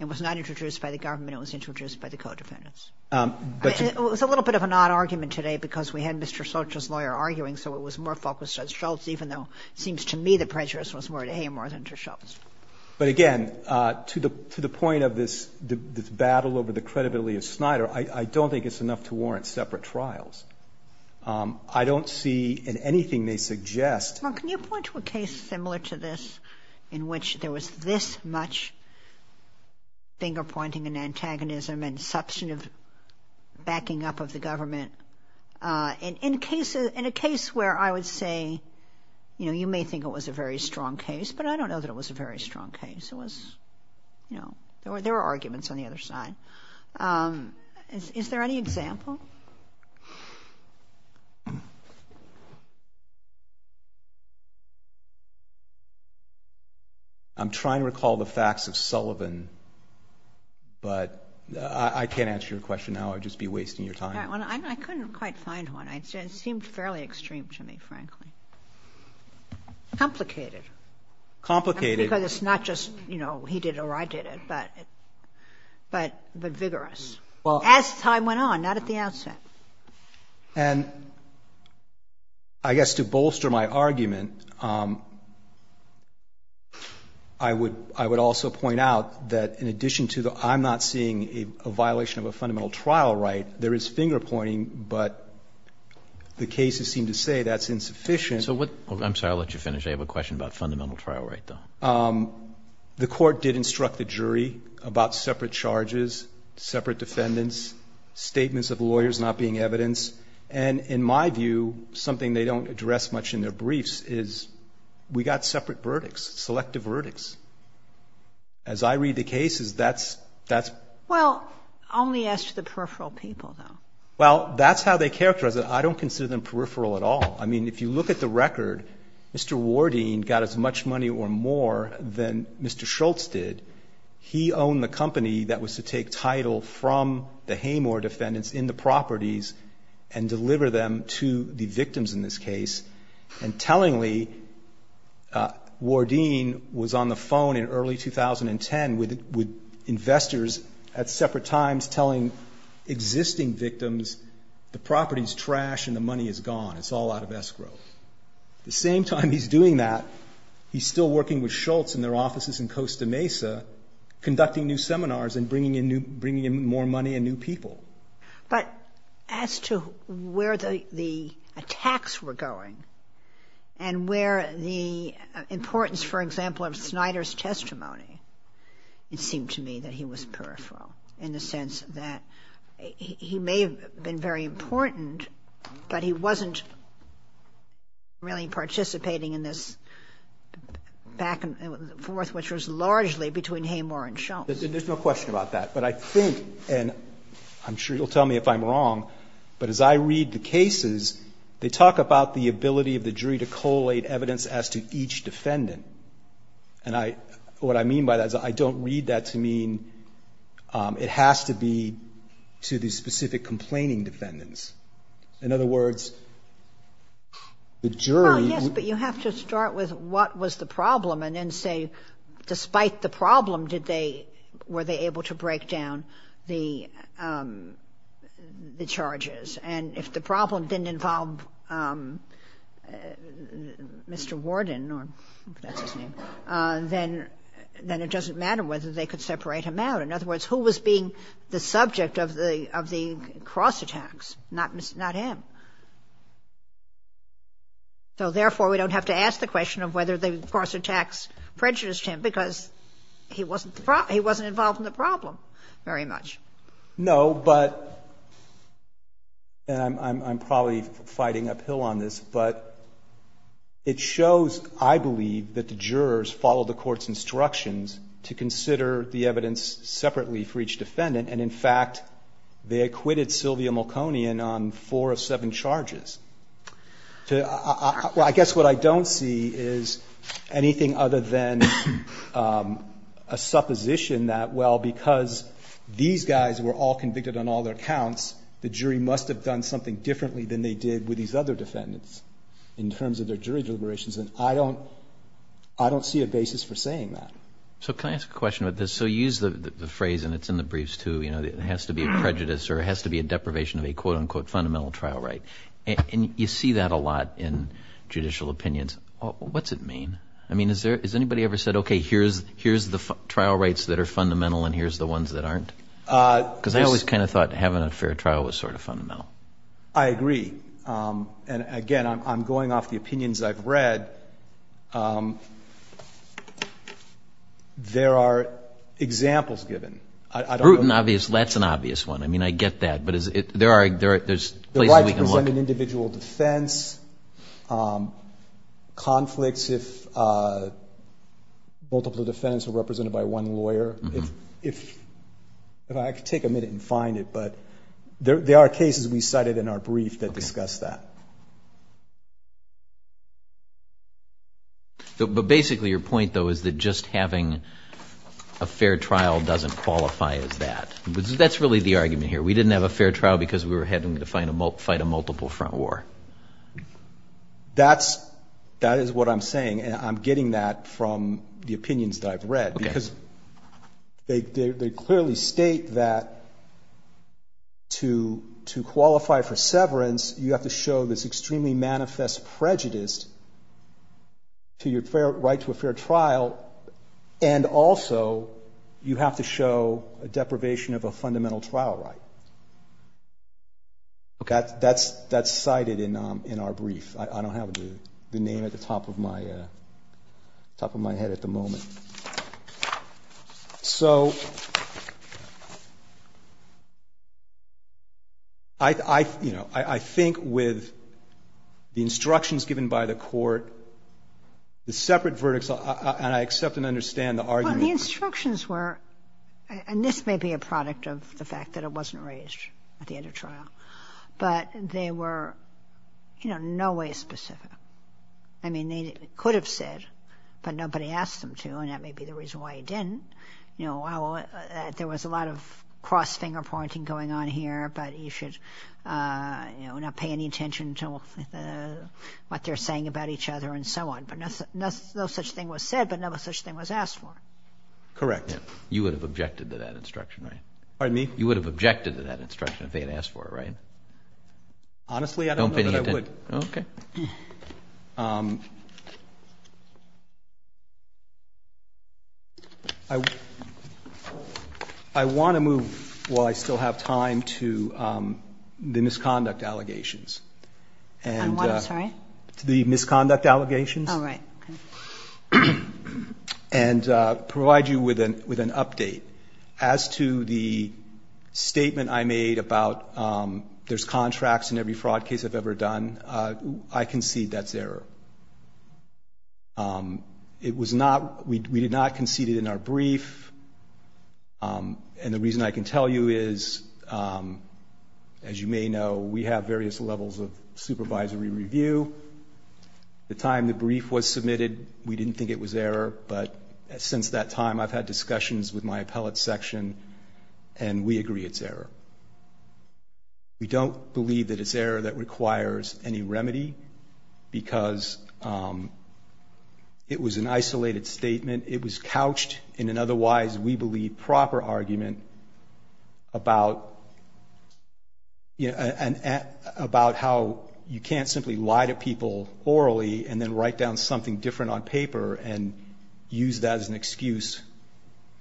It was not introduced by the government. It was introduced by the co-defendants. It was a little bit of an odd argument today because we had Mr. Schultz's lawyer arguing, so it was more focused on Schultz, even though it seems to me the prejudice was more to Hamor than to Schultz. But again, to the point of this battle over the credibility of Snyder, I don't think it's enough to warrant separate trials. I don't see in anything they suggest that there was a case similar to this in which there was this much finger-pointing and antagonism and substantive backing up of the government. In a case where I would say, you know, you may think it was a very strong case, but I don't know that it was a very strong case. It was, you know, there were arguments on the other side. Is there any example? I'm trying to recall the facts of Sullivan, but I can't answer your question now. I'd just be wasting your time. I couldn't quite find one. It seemed fairly extreme to me, frankly. Complicated. Complicated. Because it's not just, you know, he did it or I did it, but vigorous. As time went on, not at the outset. And I guess to bolster my argument, I would also point out that in addition to the I'm not seeing a violation of a fundamental trial right, there is finger-pointing, but the cases seem to say that's insufficient. I'm sorry, I'll let you finish. I have a question about fundamental trial right, though. The court did instruct the jury about separate charges, separate defendants, statements of evidence, and in my view, something they don't address much in their briefs is we got separate verdicts, selective verdicts. As I read the cases, that's Well, only as to the peripheral people, though. Well, that's how they characterize it. I don't consider them peripheral at all. I mean, if you look at the record, Mr. Wardeen got as much money or more than Mr. Schultz did. He owned the company that was to take title from the Haymore defendants in the properties and deliver them to the victims in this case. And tellingly, Wardeen was on the phone in early 2010 with investors at separate times telling existing victims the property is trash and the money is gone. It's all out of escrow. The same time he's doing that, he's still working with Schultz in their offices in Costa Rica, conducting new seminars and bringing in more money and new people. But as to where the attacks were going and where the importance, for example, of Snyder's testimony, it seemed to me that he was peripheral in the sense that he may have been very important, but he wasn't really participating in this back and forth, which was largely between Haymore and Schultz. There's no question about that. But I think, and I'm sure you'll tell me if I'm wrong, but as I read the cases, they talk about the ability of the jury to collate evidence as to each defendant. And I — what I mean by that is I don't read that to mean it has to be to the specific complaining defendants. In other words, the jury — Well, yes, but you have to start with what was the problem and then say despite the problem did they — were they able to break down the charges. And if the problem didn't involve Mr. Warden or — I think that's his name — then it doesn't matter whether they could separate him out. In other words, who was being the subject of the cross-attacks? Not him. So therefore, we don't have to ask the question of whether the cross-attacks prejudiced him because he wasn't involved in the problem very much. No, but — and I'm probably fighting uphill on this, but it shows, I believe, that the jurors followed the court's instructions to consider the evidence separately for each defendant. And in fact, they acquitted Sylvia Malkonian on four of seven charges. I guess what I don't see is anything other than a supposition that, well, because these guys were all convicted on all their counts, the jury must have done something differently than they did with these other defendants in terms of their jury deliberations. And I don't see a basis for saying that. So can I ask a question about this? So you use the phrase — and it's in the briefs, too — you know, it has to be a prejudice or it has to be a deprivation of a quote-unquote judicial opinions. What's it mean? I mean, has anybody ever said, okay, here's the trial rights that are fundamental and here's the ones that aren't? Because I always kind of thought having a fair trial was sort of fundamental. I agree. And again, I'm going off the opinions I've read. There are examples given. Bruton, obvious. That's an obvious one. I mean, I get that. But there's places we can look. If it's represented in individual defense, conflicts if multiple defendants are represented by one lawyer. If I could take a minute and find it, but there are cases we cited in our brief that discuss that. But basically, your point, though, is that just having a fair trial doesn't qualify as that. That's really the argument here. We didn't have a fair trial because we were having to fight a multiple front war. That is what I'm saying. And I'm getting that from the opinions that I've read because they clearly state that to qualify for severance, you have to show this extremely manifest prejudice to your right to a fair trial. And also, you have to show a deprivation of a fundamental trial right. That's cited in our brief. I don't have the name at the top of my head at the moment. So, I think with the instructions given by the court, the separate verdicts, and I accept and understand the argument. The instructions were, and this may be a product of the fact that it wasn't raised at the end of trial, but they were in no way specific. I mean, they could have said, but nobody asked them to, and that may be the reason why they didn't. There was a lot of cross-finger pointing going on here, but you should not pay any attention to what they're saying about each other, and so on. No such thing was said, but no such thing was asked for. Correct. You would have objected to that instruction, right? Pardon me? You would have objected to that instruction if they had asked for it, right? Honestly, I don't know that I would. I want to move, while I still have time, to the misconduct allegations. I'm sorry? To the misconduct allegations, and provide you with an update. As to the statement I made about there's contracts in every fraud case I've ever done, I concede that's error. It was not, we did not concede it in our brief, and the reason I can tell you is, as you may know, we have various levels of supervisory review. The time the brief was submitted, we didn't think it was error, but since that time, I've had discussions with my appellate section, and we agree it's error. We don't believe that it's error that requires any remedy, because it was an isolated statement. It was couched in an otherwise, we believe, proper argument about how you can't simply lie to people orally, and then write down something different on paper, and use that as an excuse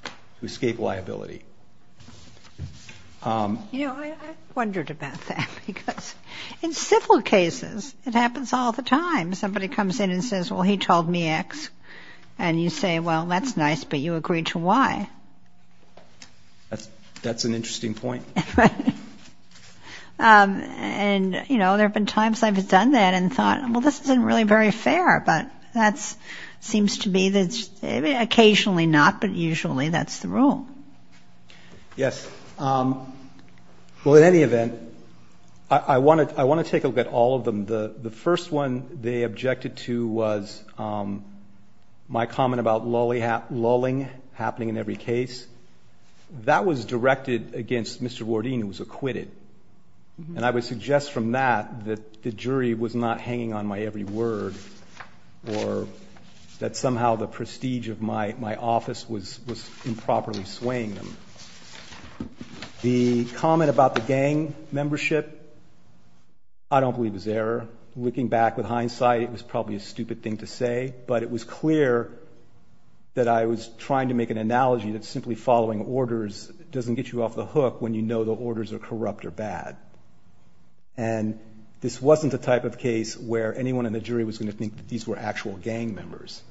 to escape liability. You know, I wondered about that, because in civil cases, it happens all the time. Somebody comes in and says, well, he told me X, and you say, well, that's nice, but you agreed to Y. That's an interesting point. And, you know, there have been times I've done that and thought, well, this isn't really very fair, but that seems to be, occasionally not, but usually that's the rule. Yes. Well, in any event, I want to take a look at all of them. The first one, they objected to was my comment about lulling happening in every case. That was directed against Mr. Wardeen, who was acquitted. And I would suggest from that that the jury was not hanging on my every word, or that somehow the prestige of my office was improperly swaying them. The comment about the gang membership, I don't believe it was error. Looking back with hindsight, it was probably a stupid thing to say, but it was clear that I was trying to make an analogy that simply following orders doesn't get you off the hook when you know the orders are corrupt or bad. And this wasn't the type of case where anyone in the jury was going to think that these were actual gang members.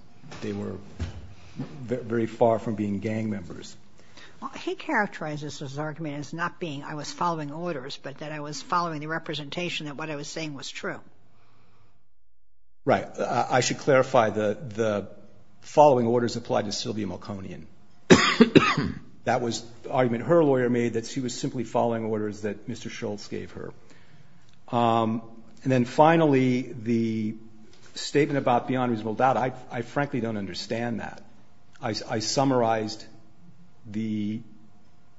They were very far from being gang members. Well, he characterized his argument as not being, I was following orders, but that I was following the representation that what I was saying was true. Right. I should clarify the following orders applied to Sylvia Malkonian. That was the argument her lawyer made, that she was simply following orders that Mr. Schultz gave her. And then finally, the statement about beyond reasonable doubt, I frankly don't understand that. I summarized the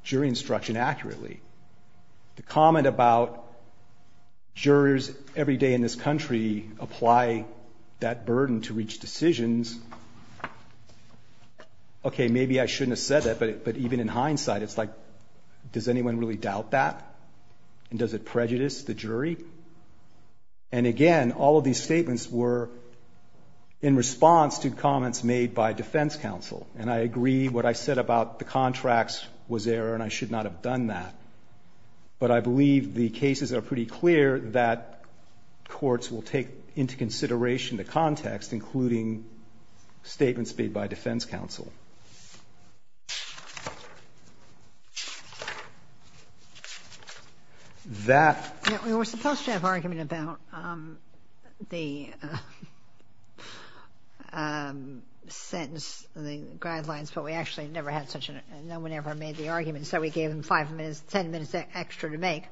jury instruction accurately. The comment about the gang membership, I thought, jurors every day in this country apply that burden to reach decisions. Okay, maybe I shouldn't have said that, but even in hindsight, it's like, does anyone really doubt that? And does it prejudice the jury? And again, all of these statements were in response to comments made by defense counsel. And I agree what I said about the contracts was error, and I should not have done that. But I believe the cases are pretty clear that courts will take into consideration the context, including statements made by defense counsel. We were supposed to have an argument about the sentence, the guidelines, but we actually never had such an, no one ever made the argument. So we gave them five minutes, 10 minutes extra to make.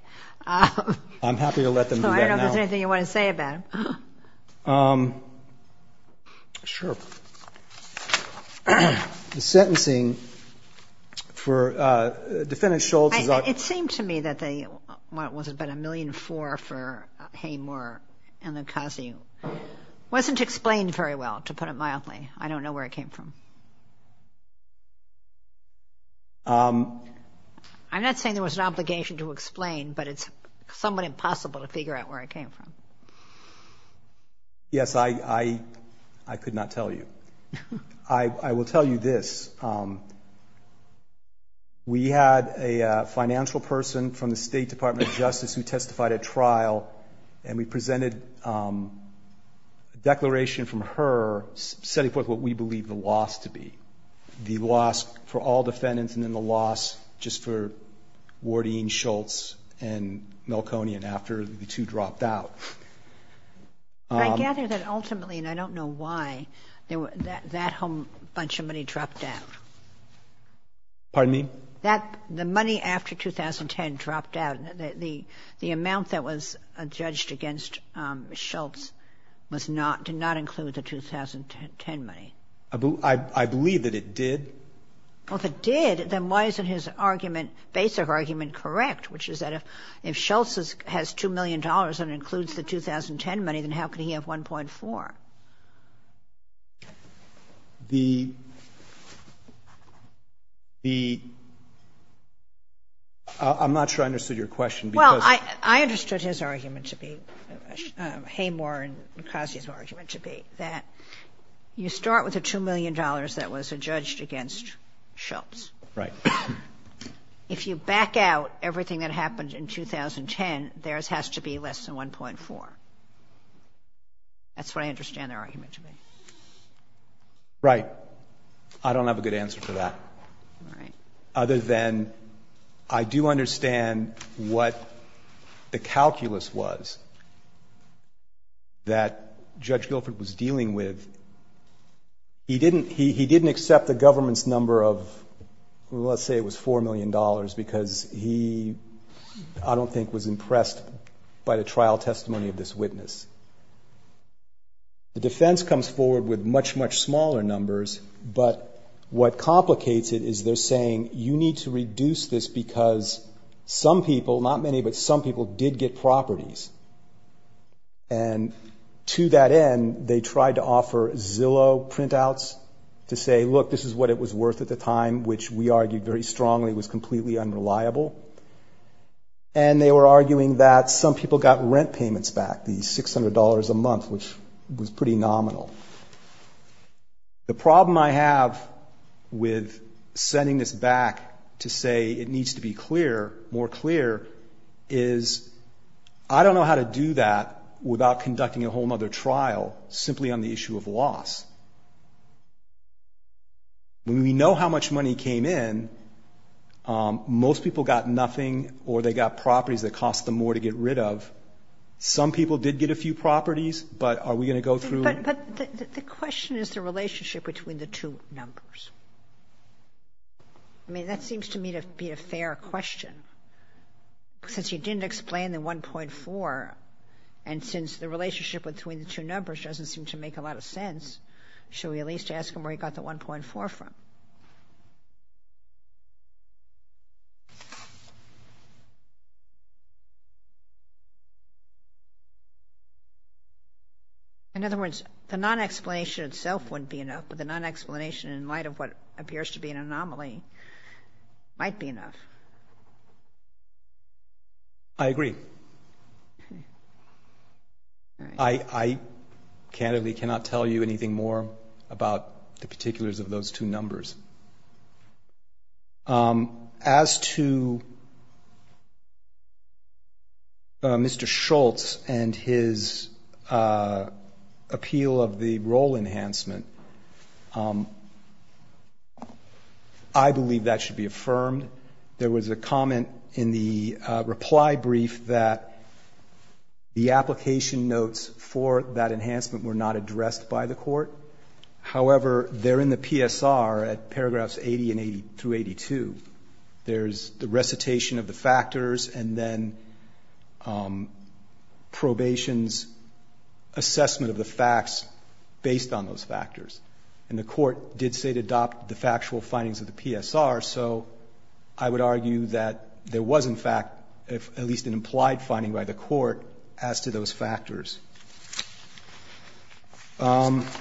I'm happy to let them do that now. So I don't know if there's anything you want to say about it. Sure. The sentencing for Defendant Schultz... It seemed to me that the, what was it, about a million four for Haymore and Lucazio wasn't explained very well, to put it mildly. I don't know where it came from. I'm not saying there was an obligation to explain, but it's somewhat impossible to figure out where it came from. Yes, I could not tell you. I will tell you this. We had a financial person from the State Department of Justice who testified at trial, and we presented a declaration from her setting forth what we believe the loss to be. The loss for all defendants and then the loss just for Wardeen Schultz and Melkonian after the two dropped out. I gather that ultimately, and I don't know why, that whole bunch of money dropped out. Pardon me? The money after 2010 dropped out. The amount that was judged against Schultz did not include the 2010 money. I believe that it did. Well, if it did, then why isn't his argument, basic argument, correct? Which is that if Schultz has $2 million and includes the 2010 money, then how could he have 1.4? The... I'm not sure I can answer that question. I'm not sure I can answer that question. I'm not sure I understood your question because... Well, I understood his argument to be, Haymore and Mukasey's argument to be, that you start with the $2 million that was adjudged against Schultz. Right. If you back out everything that happened in 2010, theirs has to be less than 1.4. That's what I understand their argument to be. Right. I don't have a good answer for that. Right. Other than, I do understand what the calculus was that Judge Guilford was dealing with. He didn't accept the government's number of, let's say it was $4 million because he, I don't think, was impressed by the trial testimony of this case. What complicates it is they're saying, you need to reduce this because some people, not many, but some people did get properties. And to that end, they tried to offer Zillow printouts to say, look, this is what it was worth at the time, which we argued very strongly was completely unreliable. And they were arguing that some people got rent payments back, the with sending this back to say it needs to be clear, more clear, is I don't know how to do that without conducting a whole nother trial simply on the issue of loss. When we know how much money came in, most people got nothing or they got properties that cost them more to get rid of. Some people did get a few properties, but are we going to go through that? But the question is the relationship between the two numbers. I mean, that seems to me to be a fair question. Since you didn't explain the 1.4 and since the relationship between the two numbers doesn't seem to make a lot of sense, should we at least ask him where he got the 1.4 from? In other words, the non-explanation itself wouldn't be enough, but the non-explanation in light of what appears to be an anomaly might be enough. I agree. I candidly cannot tell you anything more about the particulars of those two numbers. As to Mr. Schultz and his appeal of the role enhancement, I believe that should be affirmed. There was a comment in the reply brief that the application notes for that enhancement were not addressed by the court. However, they're in the PSR at paragraphs 80 and 82. There's the recitation of the factors and then probation's assessment of the facts based on those factors. And the court did say to adopt the factual findings of the PSR, so I would argue that there was, in fact, at least an implied finding by the court as to those factors. The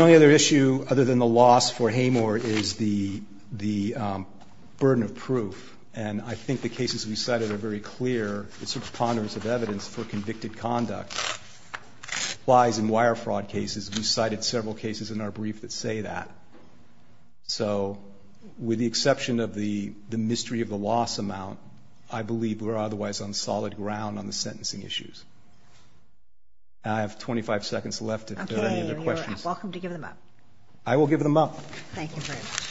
only other issue, other than the loss for Hamor, is the burden of proof. And I think the cases we cited are very clear. It's a preponderance of evidence for convicted conduct. Likewise, in wire fraud cases, we cited several cases in our brief that say that. So with the exception of the mystery of the loss amount, I believe we're otherwise on solid ground on the sentencing issues. I have 25 seconds left if there are any other questions. Okay. You're welcome to give them up. I will give them up. Thank you very much.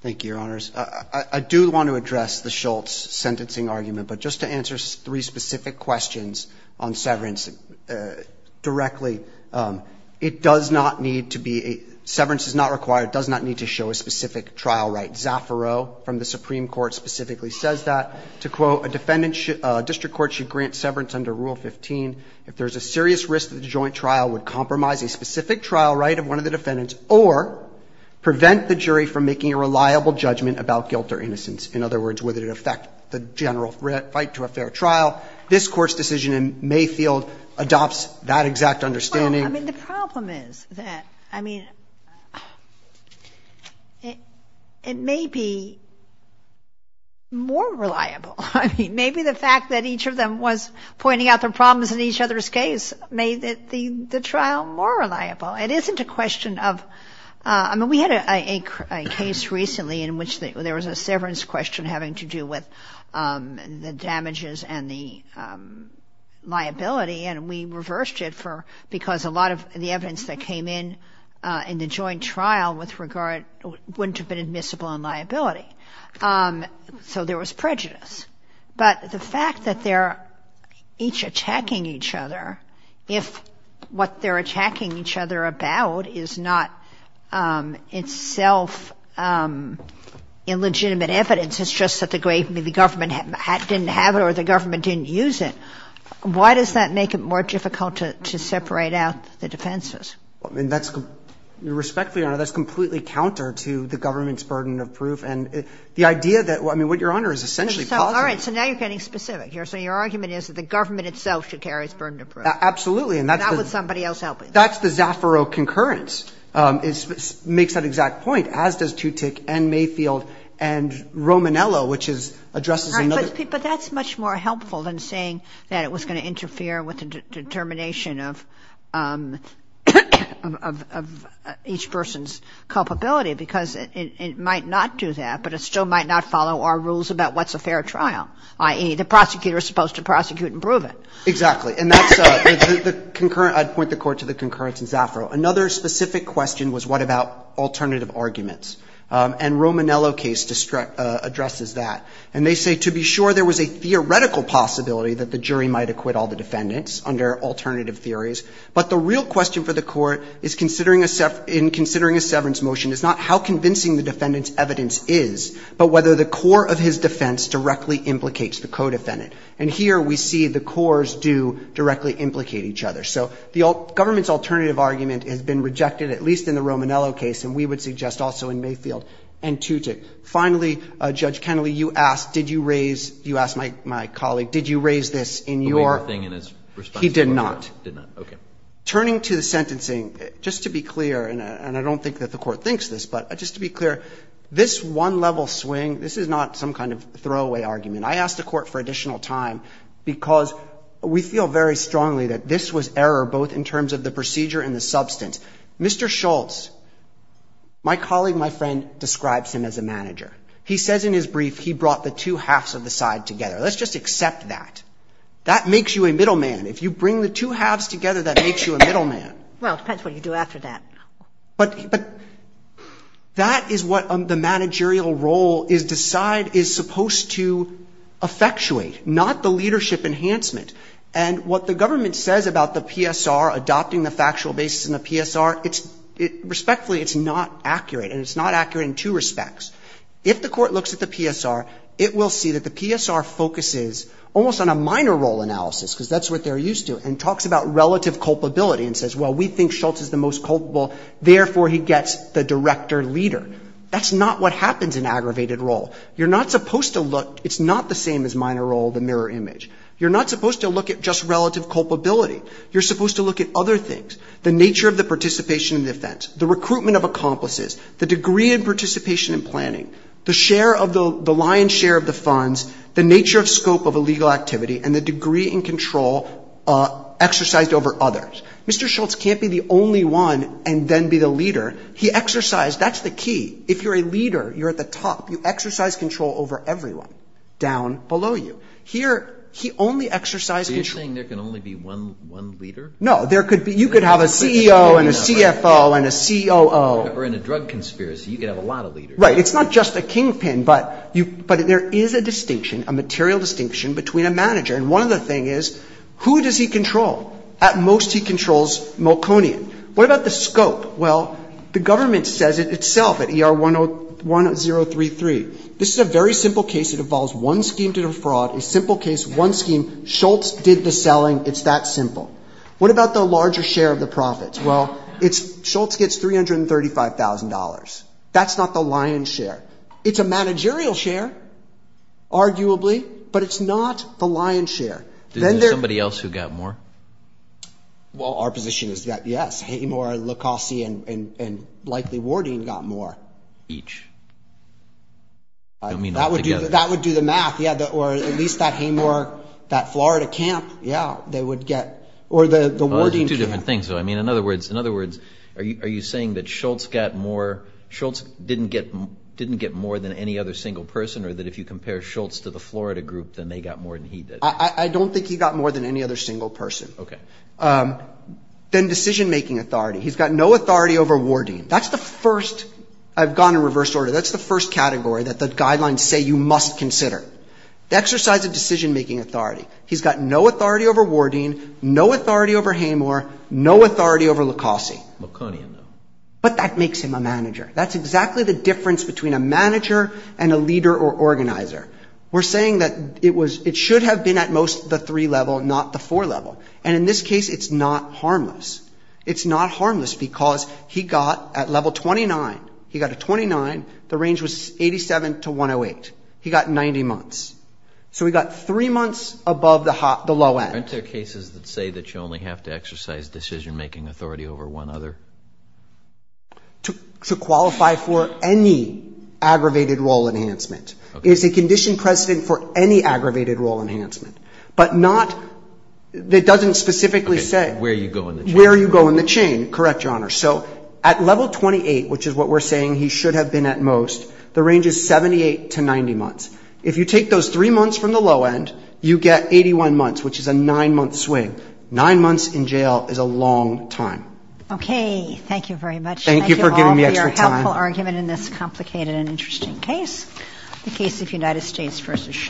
Thank you, Your Honors. I do want to address the Schultz sentencing argument, but just to answer three specific questions on severance directly, it does not need to be a case of a, severance is not required, does not need to show a specific trial right. Zaffiro from the Supreme Court specifically says that, to quote, a defendant should, a district court should grant severance under Rule 15 if there is a serious risk that the joint trial would compromise a specific trial right of one of the defendants or prevent the jury from making a reliable judgment about guilt or innocence. In other words, would it affect the general fight to a fair trial? This Court's decision in Mayfield adopts that exact understanding. I mean, the problem is that, I mean, it may be more reliable. I mean, maybe the fact that each of them was pointing out their problems in each other's case made the trial more reliable. It isn't a question of, I mean, we had a case recently in which there was a severance question having to do with the damages and the liability, and we reversed it for, because a lot of the evidence that came in, in the joint trial with regard, wouldn't have been admissible in liability. So there was prejudice. But the fact that they're each attacking each other, if what they're attacking each other about is not itself illegitimate evidence, it's just that the government didn't have it or the government didn't use it. Why does that make it more difficult to separate out the defenses? I mean, that's, respectfully, Your Honor, that's completely counter to the government's burden of proof. And the idea that, I mean, what Your Honor is essentially positive. So, all right. So now you're getting specific here. So your argument is that the government itself should carry its burden of proof. Absolutely. And that's the – Not with somebody else helping. That's the Zaffaro concurrence. It makes that exact point, as does Tutick and Mayfield and Romanello, which is, addresses another – But that's much more helpful than saying that it was going to interfere with the determination of each person's culpability, because it might not do that, but it still might not follow our rules about what's a fair trial, i.e., the prosecutor is supposed to prosecute and prove it. Exactly. And that's the concurrent – I'd point the Court to the concurrence in Zaffaro. Another specific question was what about alternative arguments. And Romanello case addresses that. And they say, to be sure, there was a theoretical possibility that the jury might acquit all the defendants under alternative theories. But the real question for the Court is, in considering a severance motion, is not how convincing the defendant's evidence is, but whether the core of his defense directly implicates the co-defendant. And here we see the cores do directly implicate each other. So the government's alternative argument has been rejected, at least in the Romanello case, and we would suggest also in Mayfield and Tutick. Finally, Judge Kennelly, you asked, did you raise – you asked my colleague, did you raise this in your – The waiver thing in his response to the court. He did not. He did not. Okay. Turning to the sentencing, just to be clear, and I don't think that the Court thinks this, but just to be clear, this one-level swing, this is not some kind of throwaway argument. I asked the Court for additional time because we feel very strongly that this was error, both in terms of the procedure and the substance. Mr. Schultz, my colleague, my friend, describes him as a manager. He says in his brief he brought the two halves of the side together. Let's just accept that. That makes you a middleman. If you bring the two halves together, that makes you a middleman. Well, it depends what you do after that. But that is what the managerial role is – decide is supposed to effectuate, not the leadership enhancement. And what the government says about the PSR adopting the factual basis in the PSR, it's – respectfully, it's not accurate, and it's not accurate in two respects. If the Court looks at the PSR, it will see that the PSR focuses almost on a minor role analysis, because that's what they're used to, and talks about relative culpability and says, well, we think Schultz is the most culpable, therefore he gets the director leader. That's not what happens in aggravated role. You're not supposed to look – it's not the same as minor role, the mirror image. You're not supposed to look at just relative culpability. You're supposed to look at other things – the nature of the participation in defense, the recruitment of accomplices, the degree of participation in planning, the share of the – the lion's share of the funds, the nature of scope of a legal activity, and the degree in control exercised over others. Mr. Schultz can't be the only one and then be the leader. He exercised – that's the key. If you're a leader, you're at the top. You exercise control over everyone down below you. Here, he only exercised control – So you're saying there can only be one leader? No. There could be – you could have a CEO and a CFO and a COO. Or in a drug conspiracy, you could have a lot of leaders. Right. It's not just a kingpin, but you – but there is a distinction, a material distinction between a manager. And one other thing is, who does he control? At most, he controls Malkonian. What about the scope? Well, the government says it itself at ER 1033. This is a very simple case. It involves one scheme to defraud, a simple case, one scheme. Schultz did the selling. It's that simple. What about the larger share of the profits? Well, it's – Schultz gets $335,000. That's not the lion's share. It's a managerial share, arguably, but it's not the lion's share. Then there's somebody else who got more. Well, our position is that, yes, Haymor, Lacossie, and likely Wardeen got more. Each. I don't mean all together. That would do the math. Yeah, or at least that Haymor, that Florida camp, yeah, they would get – or the Wardeen camp. Well, it's two different things, though. I mean, in other words, in other words, are you saying that Schultz got more – Schultz didn't get more than any other single person, or that if you compare Schultz to the Florida group, then they got more than he did? I don't think he got more than any other single person. Okay. Then decision-making authority. He's got no authority over Wardeen. That's the first – I've gone in reverse order. That's the first category that the costs consider. The exercise of decision-making authority. He's got no authority over Wardeen, no authority over Haymor, no authority over Lacossie. Laconian, though. But that makes him a manager. That's exactly the difference between a manager and a leader or organizer. We're saying that it was – it should have been at most the three-level, not the four-level. And in this case, it's not harmless. It's not harmless because he got, at level 29, he got a 29, the range was 87 to 108. He got 90 months. So he got three months above the low end. Aren't there cases that say that you only have to exercise decision-making authority over one other? To qualify for any aggravated role enhancement. It's a condition precedent for any aggravated role enhancement. But not – it doesn't specifically say – Okay. Where you go in the chain. Where you go in the chain. Correct, Your Honor. So at level 28, which is what we're saying he should have been at most, the range is 78 to 90 months. If you take those three months from the low end, you get 81 months, which is a nine-month swing. Nine months in jail is a long time. Okay. Thank you very much. Thank you for giving me extra time. Thank you all for your helpful argument in this complicated and interesting case, the case of United States v. Schultz.